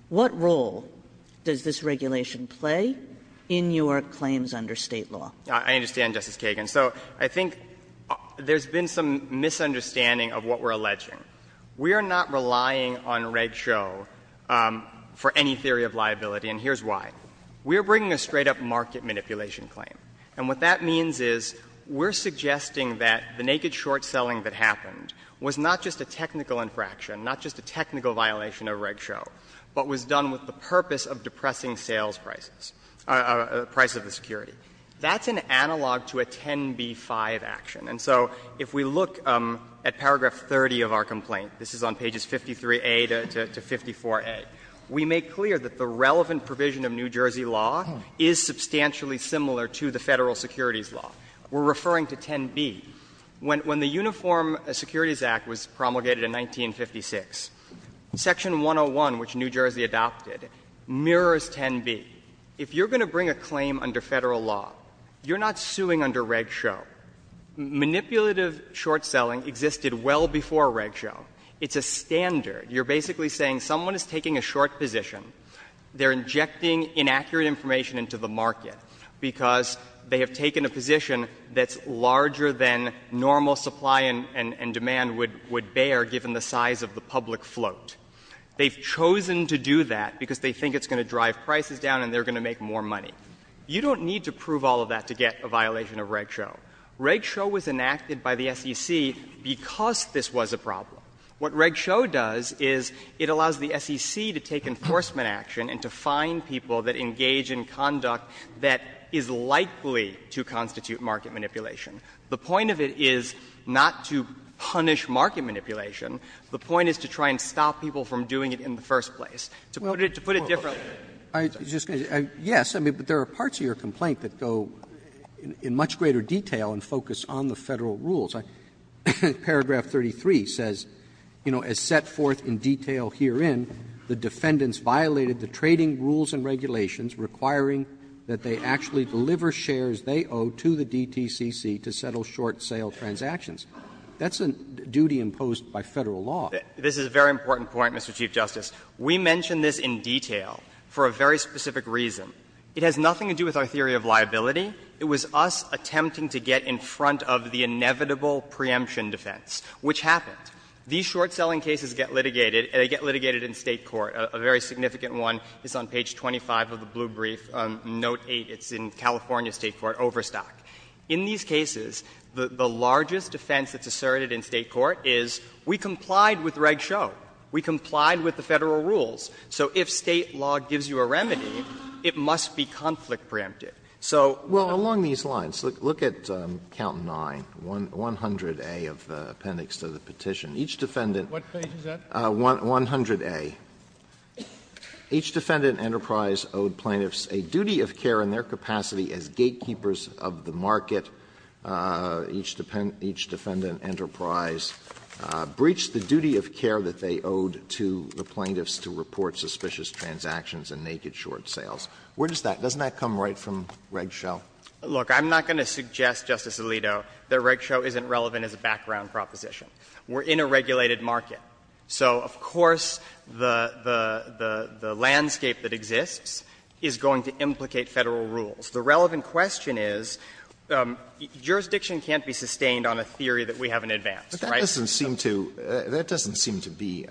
what role does this regulation play in your claims under State law? I understand, Justice Kagan. So I think there's been some misunderstanding of what we're alleging. We are not relying on Reg Show for any theory of liability, and here's why. We are bringing a straight-up market manipulation claim. And what that means is we're suggesting that the naked short-selling that happened was not just a technical infraction, not just a technical violation of Reg Show, but was done with the purpose of depressing sales prices, the price of the security. That's an analog to a 10b-5 action. And so if we look at paragraph 30 of our complaint, this is on pages 53a to 54a, we make clear that the relevant provision of New Jersey law is substantially similar to the Federal securities law. We're referring to 10b. When the Uniform Securities Act was promulgated in 1956, Section 101, which New Jersey adopted, mirrors 10b. If you're going to bring a claim under Federal law, you're not suing under Reg Show. Manipulative short-selling existed well before Reg Show. It's a standard. You're basically saying someone is taking a short position. They're injecting inaccurate information into the market because they have taken a short position, and normal supply and demand would bear, given the size of the public float. They've chosen to do that because they think it's going to drive prices down and they're going to make more money. You don't need to prove all of that to get a violation of Reg Show. Reg Show was enacted by the SEC because this was a problem. What Reg Show does is it allows the SEC to take enforcement action and to find people that engage in conduct that is likely to constitute market manipulation. The point of it is not to punish market manipulation. The point is to try and stop people from doing it in the first place. To put it differently. Roberts. Roberts. Roberts. Yes, but there are parts of your complaint that go in much greater detail and focus on the Federal rules. Paragraph 33 says, you know, as set forth in detail herein, the defendants violated the trading rules and regulations requiring that they actually deliver the shares they owe to the DTCC to settle short sale transactions. That's a duty imposed by Federal law. This is a very important point, Mr. Chief Justice. We mention this in detail for a very specific reason. It has nothing to do with our theory of liability. It was us attempting to get in front of the inevitable preemption defense, which happened. These short selling cases get litigated and they get litigated in State court. A very significant one is on page 25 of the blue brief, note 8. It's in California State court, Overstock. In these cases, the largest defense that's asserted in State court is we complied with Reg Show. We complied with the Federal rules. So if State law gives you a remedy, it must be conflict preemptive. So they're not going to do that. Alito, well, along these lines, look at count 9, 100A of the appendix to the petition. Each defendant. Scalia, what page is that? Alito, 100A. Each defendant enterprise owed plaintiffs a duty of care in their capacity as gatekeepers of the market. Each defendant enterprise breached the duty of care that they owed to the plaintiffs to report suspicious transactions and naked short sales. Where does that come from? Doesn't that come right from Reg Show? Look, I'm not going to suggest, Justice Alito, that Reg Show isn't relevant as a background proposition. We're in a regulated market. So, of course, the landscape that exists is going to implicate Federal rules. The relevant question is, jurisdiction can't be sustained on a theory that we haven't advanced, right? Alito, that doesn't seem to be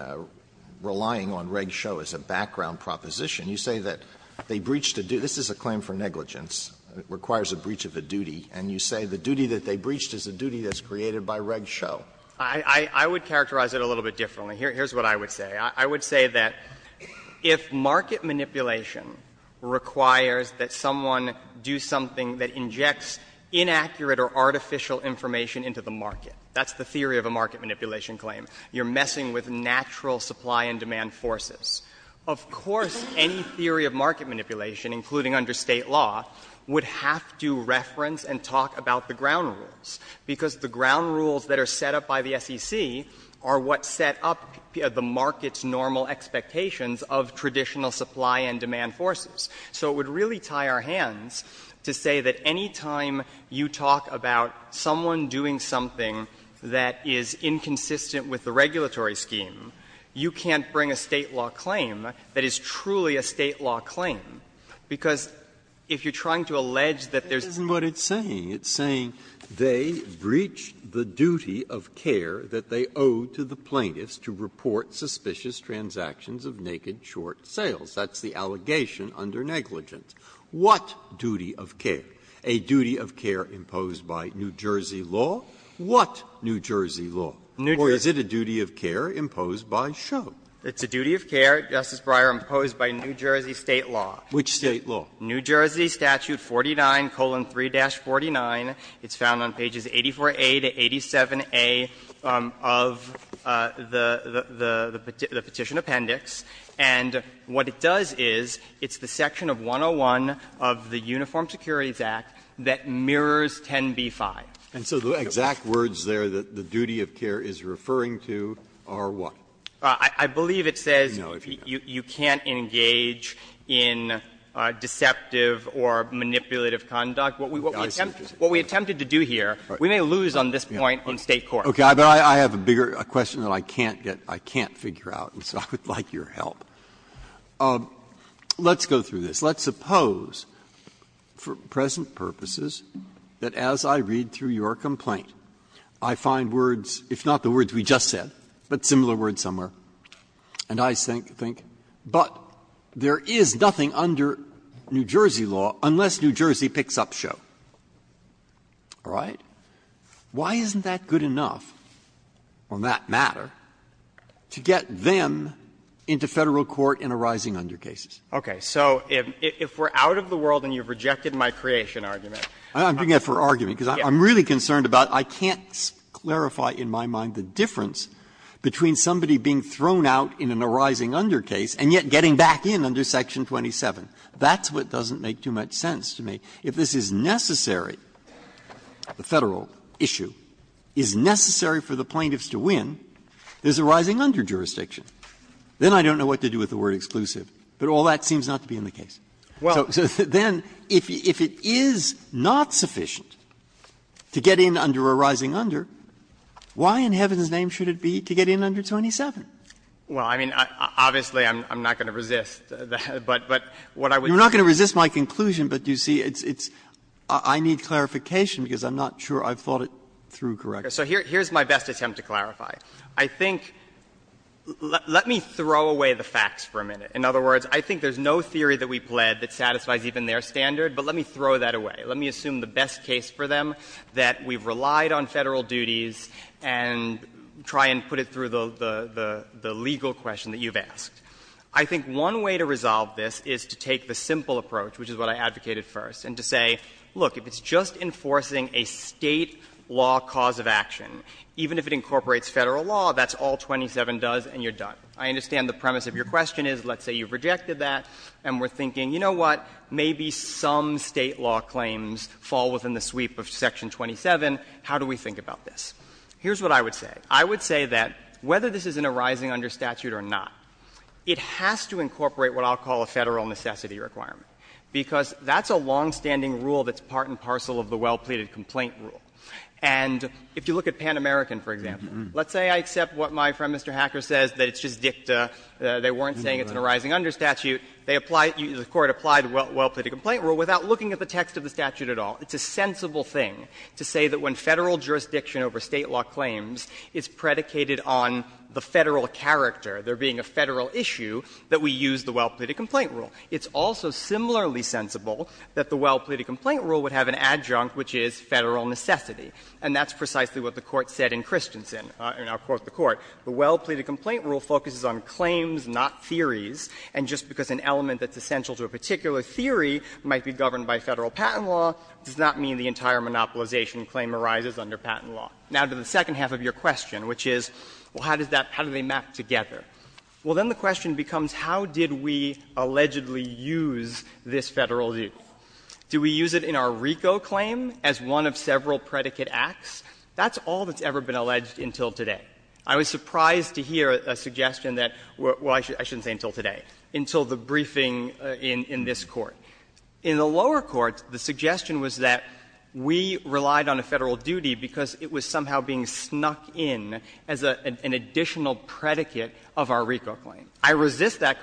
relying on Reg Show as a background proposition. You say that they breached a duty. This is a claim for negligence. It requires a breach of a duty. And you say the duty that they breached is a duty that's created by Reg Show. I would characterize it a little bit differently. Here's what I would say. I would say that if market manipulation requires that someone do something that injects inaccurate or artificial information into the market, that's the theory of a market manipulation claim, you're messing with natural supply and demand forces. Of course, any theory of market manipulation, including under State law, would have to reference and talk about the ground rules, because the ground rules that are set up by the SEC are what set up the market's normal expectations of traditional supply and demand forces. So it would really tie our hands to say that any time you talk about someone doing something that is inconsistent with the regulatory scheme, you can't bring a State law claim that is truly a State law claim, because if you're trying to allege that there's a market manipulation claim, that's not what it's saying. It's saying they breached the duty of care that they owed to the plaintiffs to report suspicious transactions of naked short sales. That's the allegation under negligence. What duty of care? A duty of care imposed by New Jersey law? What New Jersey law? Or is it a duty of care imposed by Show? It's a duty of care, Justice Breyer, imposed by New Jersey State law. Which State law? New Jersey Statute 49,3-49. It's found on pages 84a to 87a of the Petition Appendix. And what it does is, it's the section of 101 of the Uniform Securities Act that mirrors 10b-5. Breyer, and so the exact words there that the duty of care is referring to are what? I believe it says you can't engage in deceptive or manipulative conduct. What we attempted to do here, we may lose on this point in State court. Breyer, I have a bigger question that I can't get to, I can't figure out, so I would like your help. Let's go through this. Let's suppose, for present purposes, that as I read through your complaint, I find words, if not the words we just said, but similar words somewhere, and I think, but there is nothing under New Jersey law unless New Jersey picks up Show. All right? Why isn't that good enough on that matter to get them into Federal court in a rising under cases? Okay. So if we're out of the world and you've rejected my creation argument. I'm doing that for argument, because I'm really concerned about I can't clarify in my mind the difference between somebody being thrown out in an arising under case and yet getting back in under section 27. That's what doesn't make too much sense to me. If this is necessary, the Federal issue, is necessary for the plaintiffs to win, there is a rising under jurisdiction. Then I don't know what to do with the word exclusive. But all that seems not to be in the case. So then if it is not sufficient to get in under a rising under, why in heaven's name should it be to get in under 27? Well, I mean, obviously, I'm not going to resist, but what I would say is that. You're not going to resist my conclusion, but you see, it's – I need clarification because I'm not sure I've thought it through correctly. So here's my best attempt to clarify. In other words, I think there's no theory that we've led that satisfies even their standard, but let me throw that away. Let me assume the best case for them, that we've relied on Federal duties and try and put it through the – the legal question that you've asked. I think one way to resolve this is to take the simple approach, which is what I advocated first, and to say, look, if it's just enforcing a State law cause of action, even if it incorporates Federal law, that's all 27 does and you're done. I understand the premise of your question is, let's say you've rejected that and we're thinking, you know what, maybe some State law claims fall within the sweep of Section 27. How do we think about this? Here's what I would say. I would say that whether this is an arising under statute or not, it has to incorporate what I'll call a Federal necessity requirement, because that's a longstanding rule that's part and parcel of the well-pleaded complaint rule. And if you look at Pan American, for example, let's say I accept what my friend Mr. Hacker says, that it's just dicta, they weren't saying it's an arising under statute. They apply – the Court applied the well-pleaded complaint rule without looking at the text of the statute at all. It's a sensible thing to say that when Federal jurisdiction over State law claims is predicated on the Federal character, there being a Federal issue, that we use the well-pleaded complaint rule. It's also similarly sensible that the well-pleaded complaint rule would have an adjunct, which is Federal necessity. And that's precisely what the Court said in Christensen, and I'll quote the Court. The well-pleaded complaint rule focuses on claims, not theories, and just because an element that's essential to a particular theory might be governed by Federal patent law does not mean the entire monopolization claim arises under patent law. Now, to the second half of your question, which is, well, how does that – how do they map together? Well, then the question becomes, how did we allegedly use this Federal duty? Do we use it in our RICO claim as one of several predicate acts? That's all that's ever been alleged until today. I was surprised to hear a suggestion that, well, I shouldn't say until today, until the briefing in this Court. In the lower courts, the suggestion was that we relied on a Federal duty because it was somehow being snuck in as an additional predicate of our RICO claim. I resist that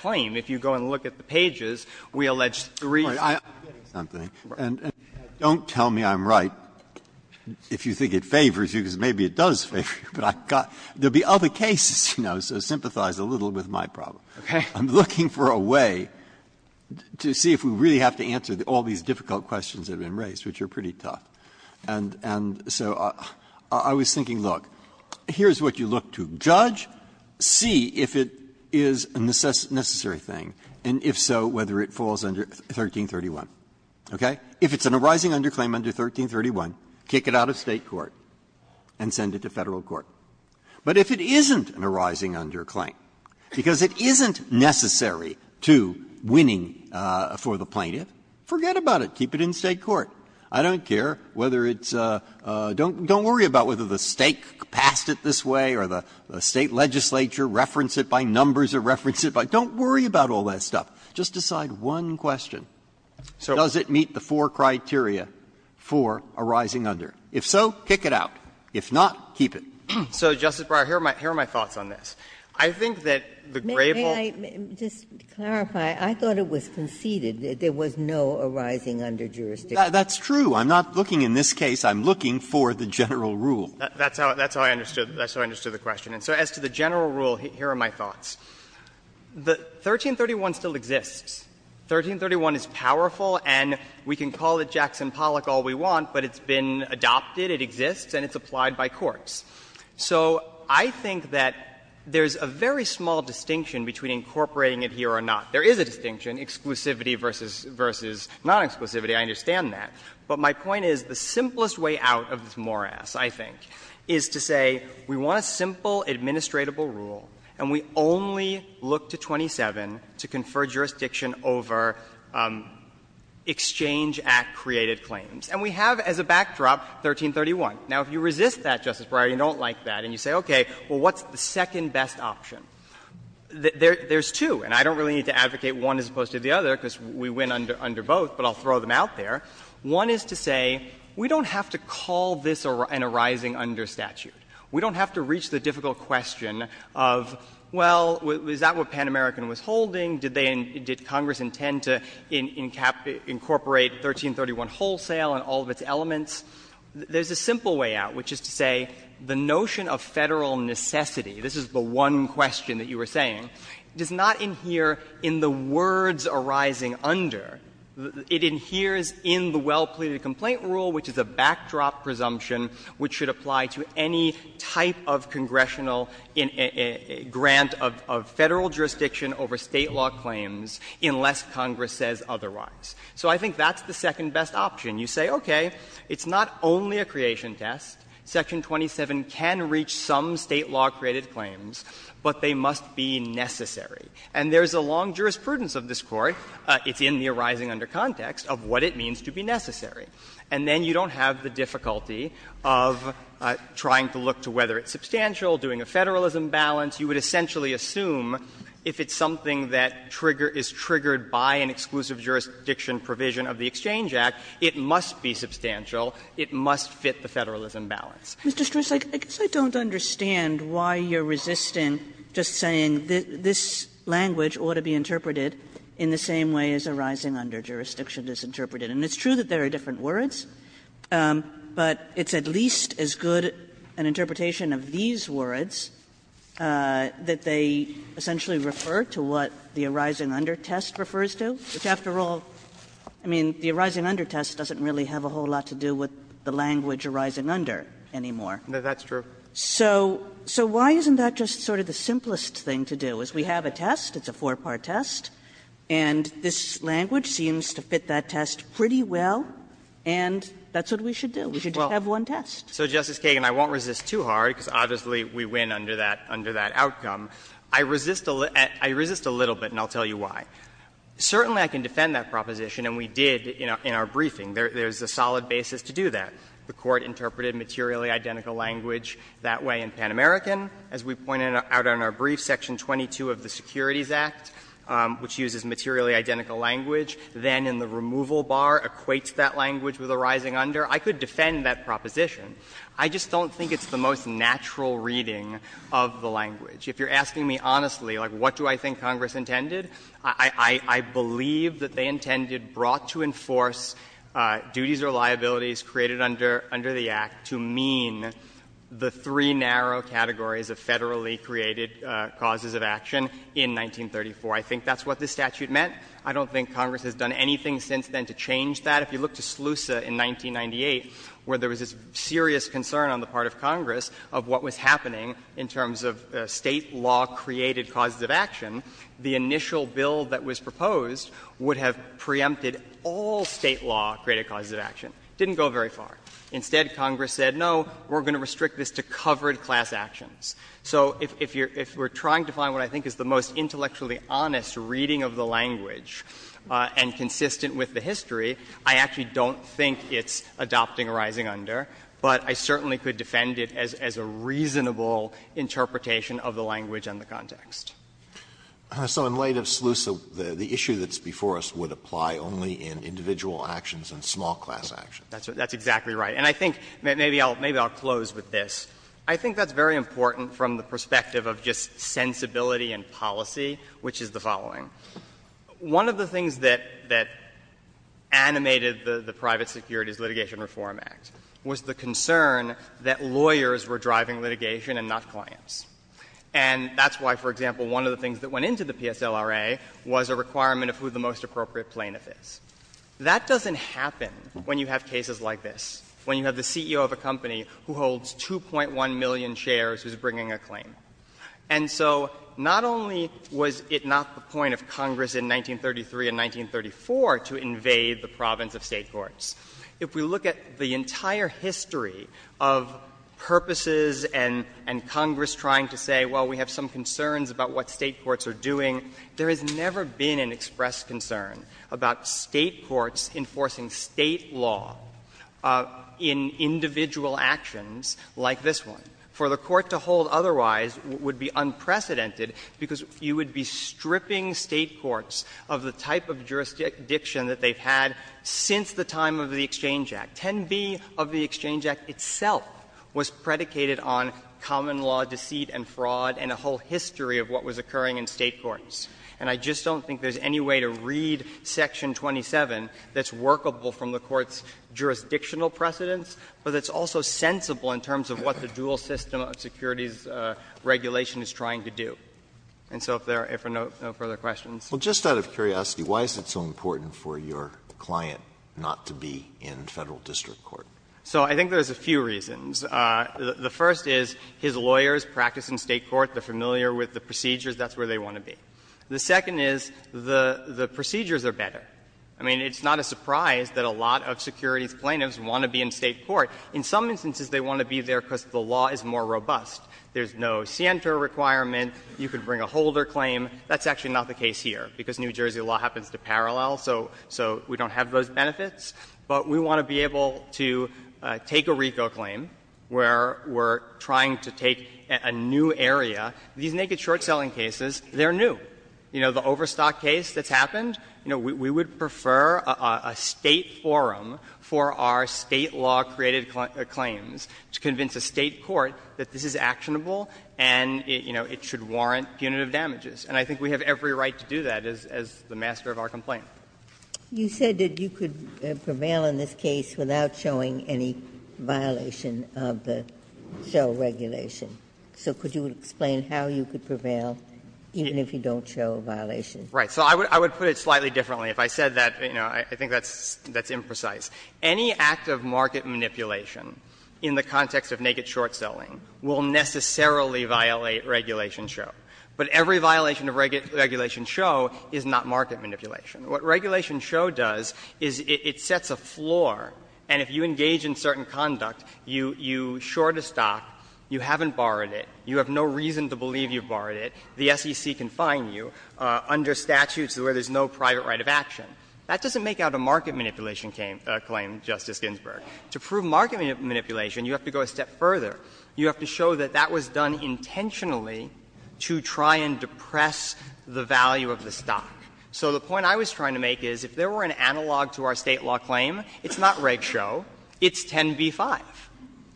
claim. If you go and look at the pages, we allege the reason. Breyer, I'm getting something. And don't tell me I'm right if you think it favors you, because maybe it does favor you, but I've got – there will be other cases, you know, so sympathize a little with my problem. Okay. I'm looking for a way to see if we really have to answer all these difficult questions that have been raised, which are pretty tough. And so I was thinking, look, here's what you look to. Judge, see if it is a necessary thing, and if so, whether it falls under 1331. Okay? If it's an arising underclaim under 1331, kick it out of State court and send it to State court. But if it isn't an arising underclaim, because it isn't necessary to winning for the plaintiff, forget about it. Keep it in State court. I don't care whether it's a – don't worry about whether the State passed it this way or the State legislature referenced it by numbers or referenced it by – don't worry about all that stuff. Just decide one question. So does it meet the four criteria for arising under? If so, kick it out. If not, keep it. So, Justice Breyer, here are my thoughts on this. I think that the gravel of this case is that there is no arising under jurisdiction. Breyer, that's true. I'm not looking in this case, I'm looking for the general rule. Breyer, that's how I understood the question. And so as to the general rule, here are my thoughts. The 1331 still exists. 1331 is powerful and we can call it Jackson Pollock all we want, but it's been adopted, it exists, and it's applied by courts. So I think that there's a very small distinction between incorporating it here or not. There is a distinction, exclusivity versus non-exclusivity, I understand that. But my point is the simplest way out of this morass, I think, is to say we want a simple, administratable rule, and we only look to 27 to confer jurisdiction over Exchange Act-created claims. And we have as a backdrop 1331. Now, if you resist that, Justice Breyer, you don't like that, and you say, okay, well, what's the second best option? There's two, and I don't really need to advocate one as opposed to the other because we win under both, but I'll throw them out there. One is to say we don't have to call this an arising under statute. We don't have to reach the difficult question of, well, is that what Pan American was holding? Did Congress intend to incorporate 1331 wholesale and all of its elements? There's a simple way out, which is to say the notion of Federal necessity, this is the one question that you were saying, does not adhere in the words arising under. It adheres in the well-pleaded complaint rule, which is a backdrop presumption which should apply to any type of congressional grant of Federal jurisdiction over State law claims unless Congress says otherwise. So I think that's the second best option. You say, okay, it's not only a creation test. Section 27 can reach some State law-created claims, but they must be necessary. And there's a long jurisprudence of this Court, it's in the arising under context, of what it means to be necessary. And then you don't have the difficulty of trying to look to whether it's substantial, doing a Federalism balance. You would essentially assume if it's something that trigger — is triggered by an exclusive jurisdiction provision of the Exchange Act, it must be substantial, it must fit the Federalism balance. Kaganen Mr. Stris, I guess I don't understand why you are resisting just saying this language ought to be interpreted in the same way as arising under jurisdiction is interpreted. And it's true that there are different words, but it's at least as good an interpretation of these words that they essentially refer to what the arising under test refers to, which, after all, I mean, the arising under test doesn't really have a whole lot to do with the language arising under anymore. Stris No, that's true. Kaganen So why isn't that just sort of the simplest thing to do, is we have a test, it's a four-part test, and this language seems to fit that test pretty well, and that's what we should do, we should just have one test. Stris So, Justice Kagan, I won't resist too hard, because obviously we win under that outcome. I resist a little bit, and I'll tell you why. Certainly, I can defend that proposition, and we did in our briefing. There's a solid basis to do that. The Court interpreted materially identical language that way in Pan American. As we pointed out in our brief, Section 22 of the Securities Act, which uses materially identical language, then in the removal bar equates that language with arising under. I could defend that proposition. I just don't think it's the most natural reading of the language. If you're asking me honestly, like, what do I think Congress intended, I believe that they intended brought to enforce duties or liabilities created under the Act to mean the three narrow categories of Federally created causes of action in 1934. I think that's what this statute meant. I don't think Congress has done anything since then to change that. If you look to SLUSA in 1998, where there was this serious concern on the part of Congress of what was happening in terms of State law-created causes of action, the initial bill that was proposed would have preempted all State law-created causes of action. It didn't go very far. Instead, Congress said, no, we're going to restrict this to covered class actions. So if you're — if we're trying to find what I think is the most intellectually honest reading of the language and consistent with the history, I actually don't think it's adopting or rising under, but I certainly could defend it as a reasonable interpretation of the language and the context. So in light of SLUSA, the issue that's before us would apply only in individual actions and small class actions. That's exactly right. And I think maybe I'll close with this. I think that's very important from the perspective of just sensibility and policy, which is the following. One of the things that animated the Private Securities Litigation Reform Act was the concern that lawyers were driving litigation and not clients. And that's why, for example, one of the things that went into the PSLRA was a requirement of who the most appropriate plaintiff is. That doesn't happen when you have cases like this, when you have the CEO of a company who holds 2.1 million shares who's bringing a claim. And so not only was it not the point of Congress in 1933 and 1934 to invade the province of State courts, if we look at the entire history of purposes and Congress trying to say, well, we have some concerns about what State courts are doing, there has never been an expressed concern about State courts enforcing State law in individual actions like this one. For the Court to hold otherwise would be unprecedented, because you would be stripping State courts of the type of jurisdiction that they've had since the time of the Exchange Act. 10b of the Exchange Act itself was predicated on common law deceit and fraud and a whole history of what was occurring in State courts. And I just don't think there's any way to read Section 27 that's workable from the point of view of what the dual system of securities regulation is trying to do. And so if there are no further questions. Alito, just out of curiosity, why is it so important for your client not to be in Federal district court? So I think there's a few reasons. The first is his lawyers practice in State court. They're familiar with the procedures. That's where they want to be. The second is the procedures are better. I mean, it's not a surprise that a lot of securities plaintiffs want to be in State court. In some instances, they want to be there because the law is more robust. There's no Sienta requirement. You could bring a holder claim. That's actually not the case here, because New Jersey law happens to parallel, so we don't have those benefits. But we want to be able to take a RICO claim where we're trying to take a new area. These naked short-selling cases, they're new. You know, the Overstock case that's happened, you know, we would prefer a State forum for our State law-created claims to convince a State court that this is actionable and, you know, it should warrant punitive damages. And I think we have every right to do that as the master of our complaint. You said that you could prevail in this case without showing any violation of the show regulation. So could you explain how you could prevail even if you don't show a violation? Right. So I would put it slightly differently. If I said that, you know, I think that's imprecise. Any act of market manipulation in the context of naked short-selling will necessarily violate Regulation Show. But every violation of Regulation Show is not market manipulation. What Regulation Show does is it sets a floor, and if you engage in certain conduct, you short a stock, you haven't borrowed it, you have no reason to believe you've borrowed it, the SEC can fine you under statutes where there's no private right of action. That doesn't make out a market manipulation claim, Justice Ginsburg. To prove market manipulation, you have to go a step further. You have to show that that was done intentionally to try and depress the value of the stock. So the point I was trying to make is if there were an analog to our State law claim, it's not Reg Show, it's 10b-5.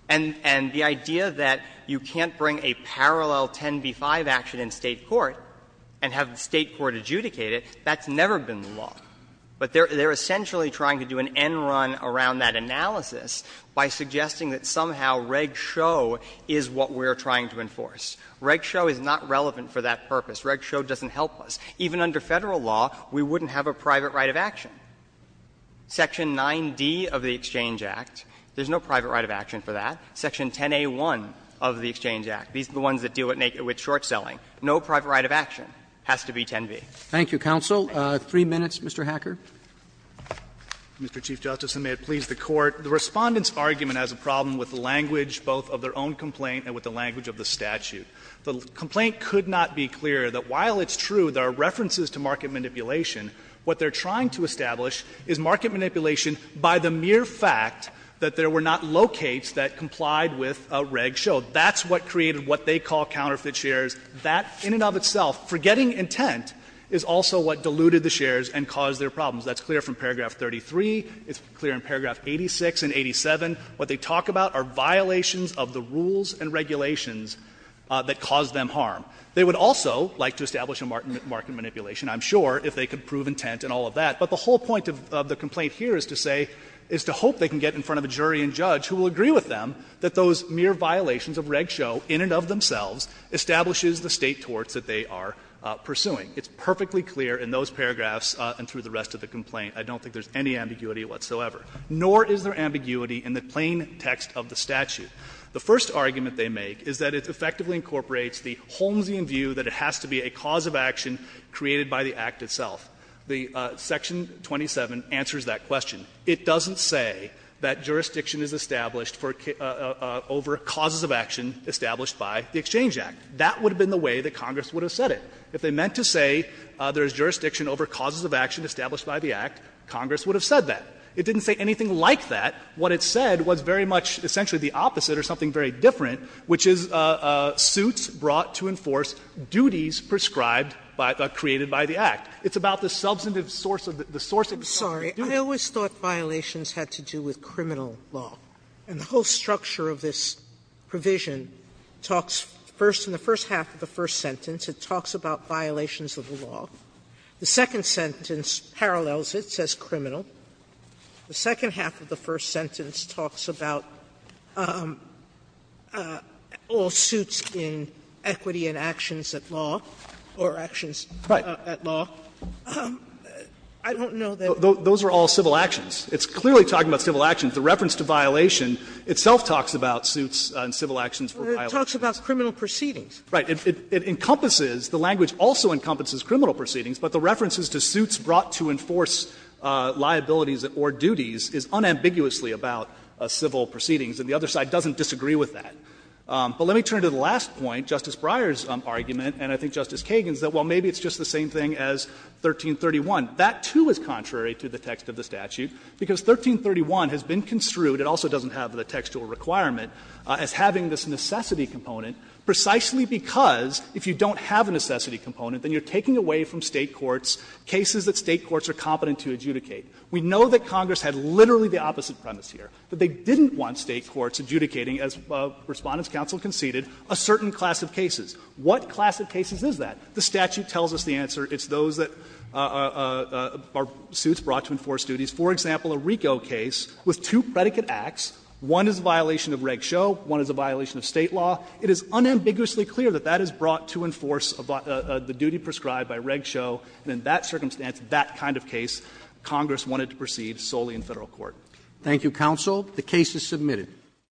And the idea that you can't bring a parallel 10b-5 action in State court and have But they're essentially trying to do an end-run around that analysis by suggesting that somehow Reg Show is what we're trying to enforce. Reg Show is not relevant for that purpose. Reg Show doesn't help us. Even under Federal law, we wouldn't have a private right of action. Section 9d of the Exchange Act, there's no private right of action for that. Section 10a1 of the Exchange Act, these are the ones that deal with short-selling. No private right of action has to be 10b. Thank you, Counsel. Three minutes, Mr. Hacker. Mr. Chief Justice, and may it please the Court. The Respondent's argument has a problem with the language both of their own complaint and with the language of the statute. The complaint could not be clearer that while it's true there are references to market manipulation, what they're trying to establish is market manipulation by the mere fact that there were not locates that complied with Reg Show. That's what created what they call counterfeit shares. That in and of itself, forgetting intent, is also what diluted the shares and caused their problems. That's clear from paragraph 33, it's clear in paragraph 86 and 87. What they talk about are violations of the rules and regulations that caused them harm. They would also like to establish a market manipulation, I'm sure, if they could prove intent and all of that. But the whole point of the complaint here is to say, is to hope they can get in front of a jury and pursue the state torts that they are pursuing. It's perfectly clear in those paragraphs and through the rest of the complaint. I don't think there's any ambiguity whatsoever. Nor is there ambiguity in the plain text of the statute. The first argument they make is that it effectively incorporates the Holmesian view that it has to be a cause of action created by the Act itself. Section 27 answers that question. It doesn't say that jurisdiction is established for over causes of action established by the Exchange Act. That would have been the way that Congress would have said it. If they meant to say there is jurisdiction over causes of action established by the Act, Congress would have said that. It didn't say anything like that. What it said was very much essentially the opposite or something very different, which is suits brought to enforce duties prescribed by the act, created by the Act. It's about the substantive source of the source of the duty. Sotomayor, I'm sorry. I always thought violations had to do with criminal law. And the whole structure of this provision talks first in the first half of the first sentence, it talks about violations of the law. The second sentence parallels it, says criminal. The second half of the first sentence talks about all suits in equity and actions at law, or actions at law. I don't know that those are all civil actions. It's clearly talking about civil actions. And the reference to violation itself talks about suits and civil actions for violations. Sotomayor, it talks about criminal proceedings. Right. It encompasses, the language also encompasses criminal proceedings, but the references to suits brought to enforce liabilities or duties is unambiguously about civil proceedings, and the other side doesn't disagree with that. But let me turn to the last point, Justice Breyer's argument, and I think Justice Kagan's, that, well, maybe it's just the same thing as 1331. That, too, is contrary to the text of the statute, because 1331 has been construed and also doesn't have the textual requirement as having this necessity component precisely because if you don't have a necessity component, then you're taking away from State courts cases that State courts are competent to adjudicate. We know that Congress had literally the opposite premise here, that they didn't want State courts adjudicating, as Respondents' counsel conceded, a certain class of cases. What class of cases is that? The statute tells us the answer. It's those that are suits brought to enforce duties. For example, a RICO case with two predicate acts, one is a violation of Reg Show, one is a violation of State law. It is unambiguously clear that that is brought to enforce the duty prescribed by Reg Show, and in that circumstance, that kind of case, Congress wanted to proceed solely in Federal court. Roberts. Thank you, counsel. The case is submitted.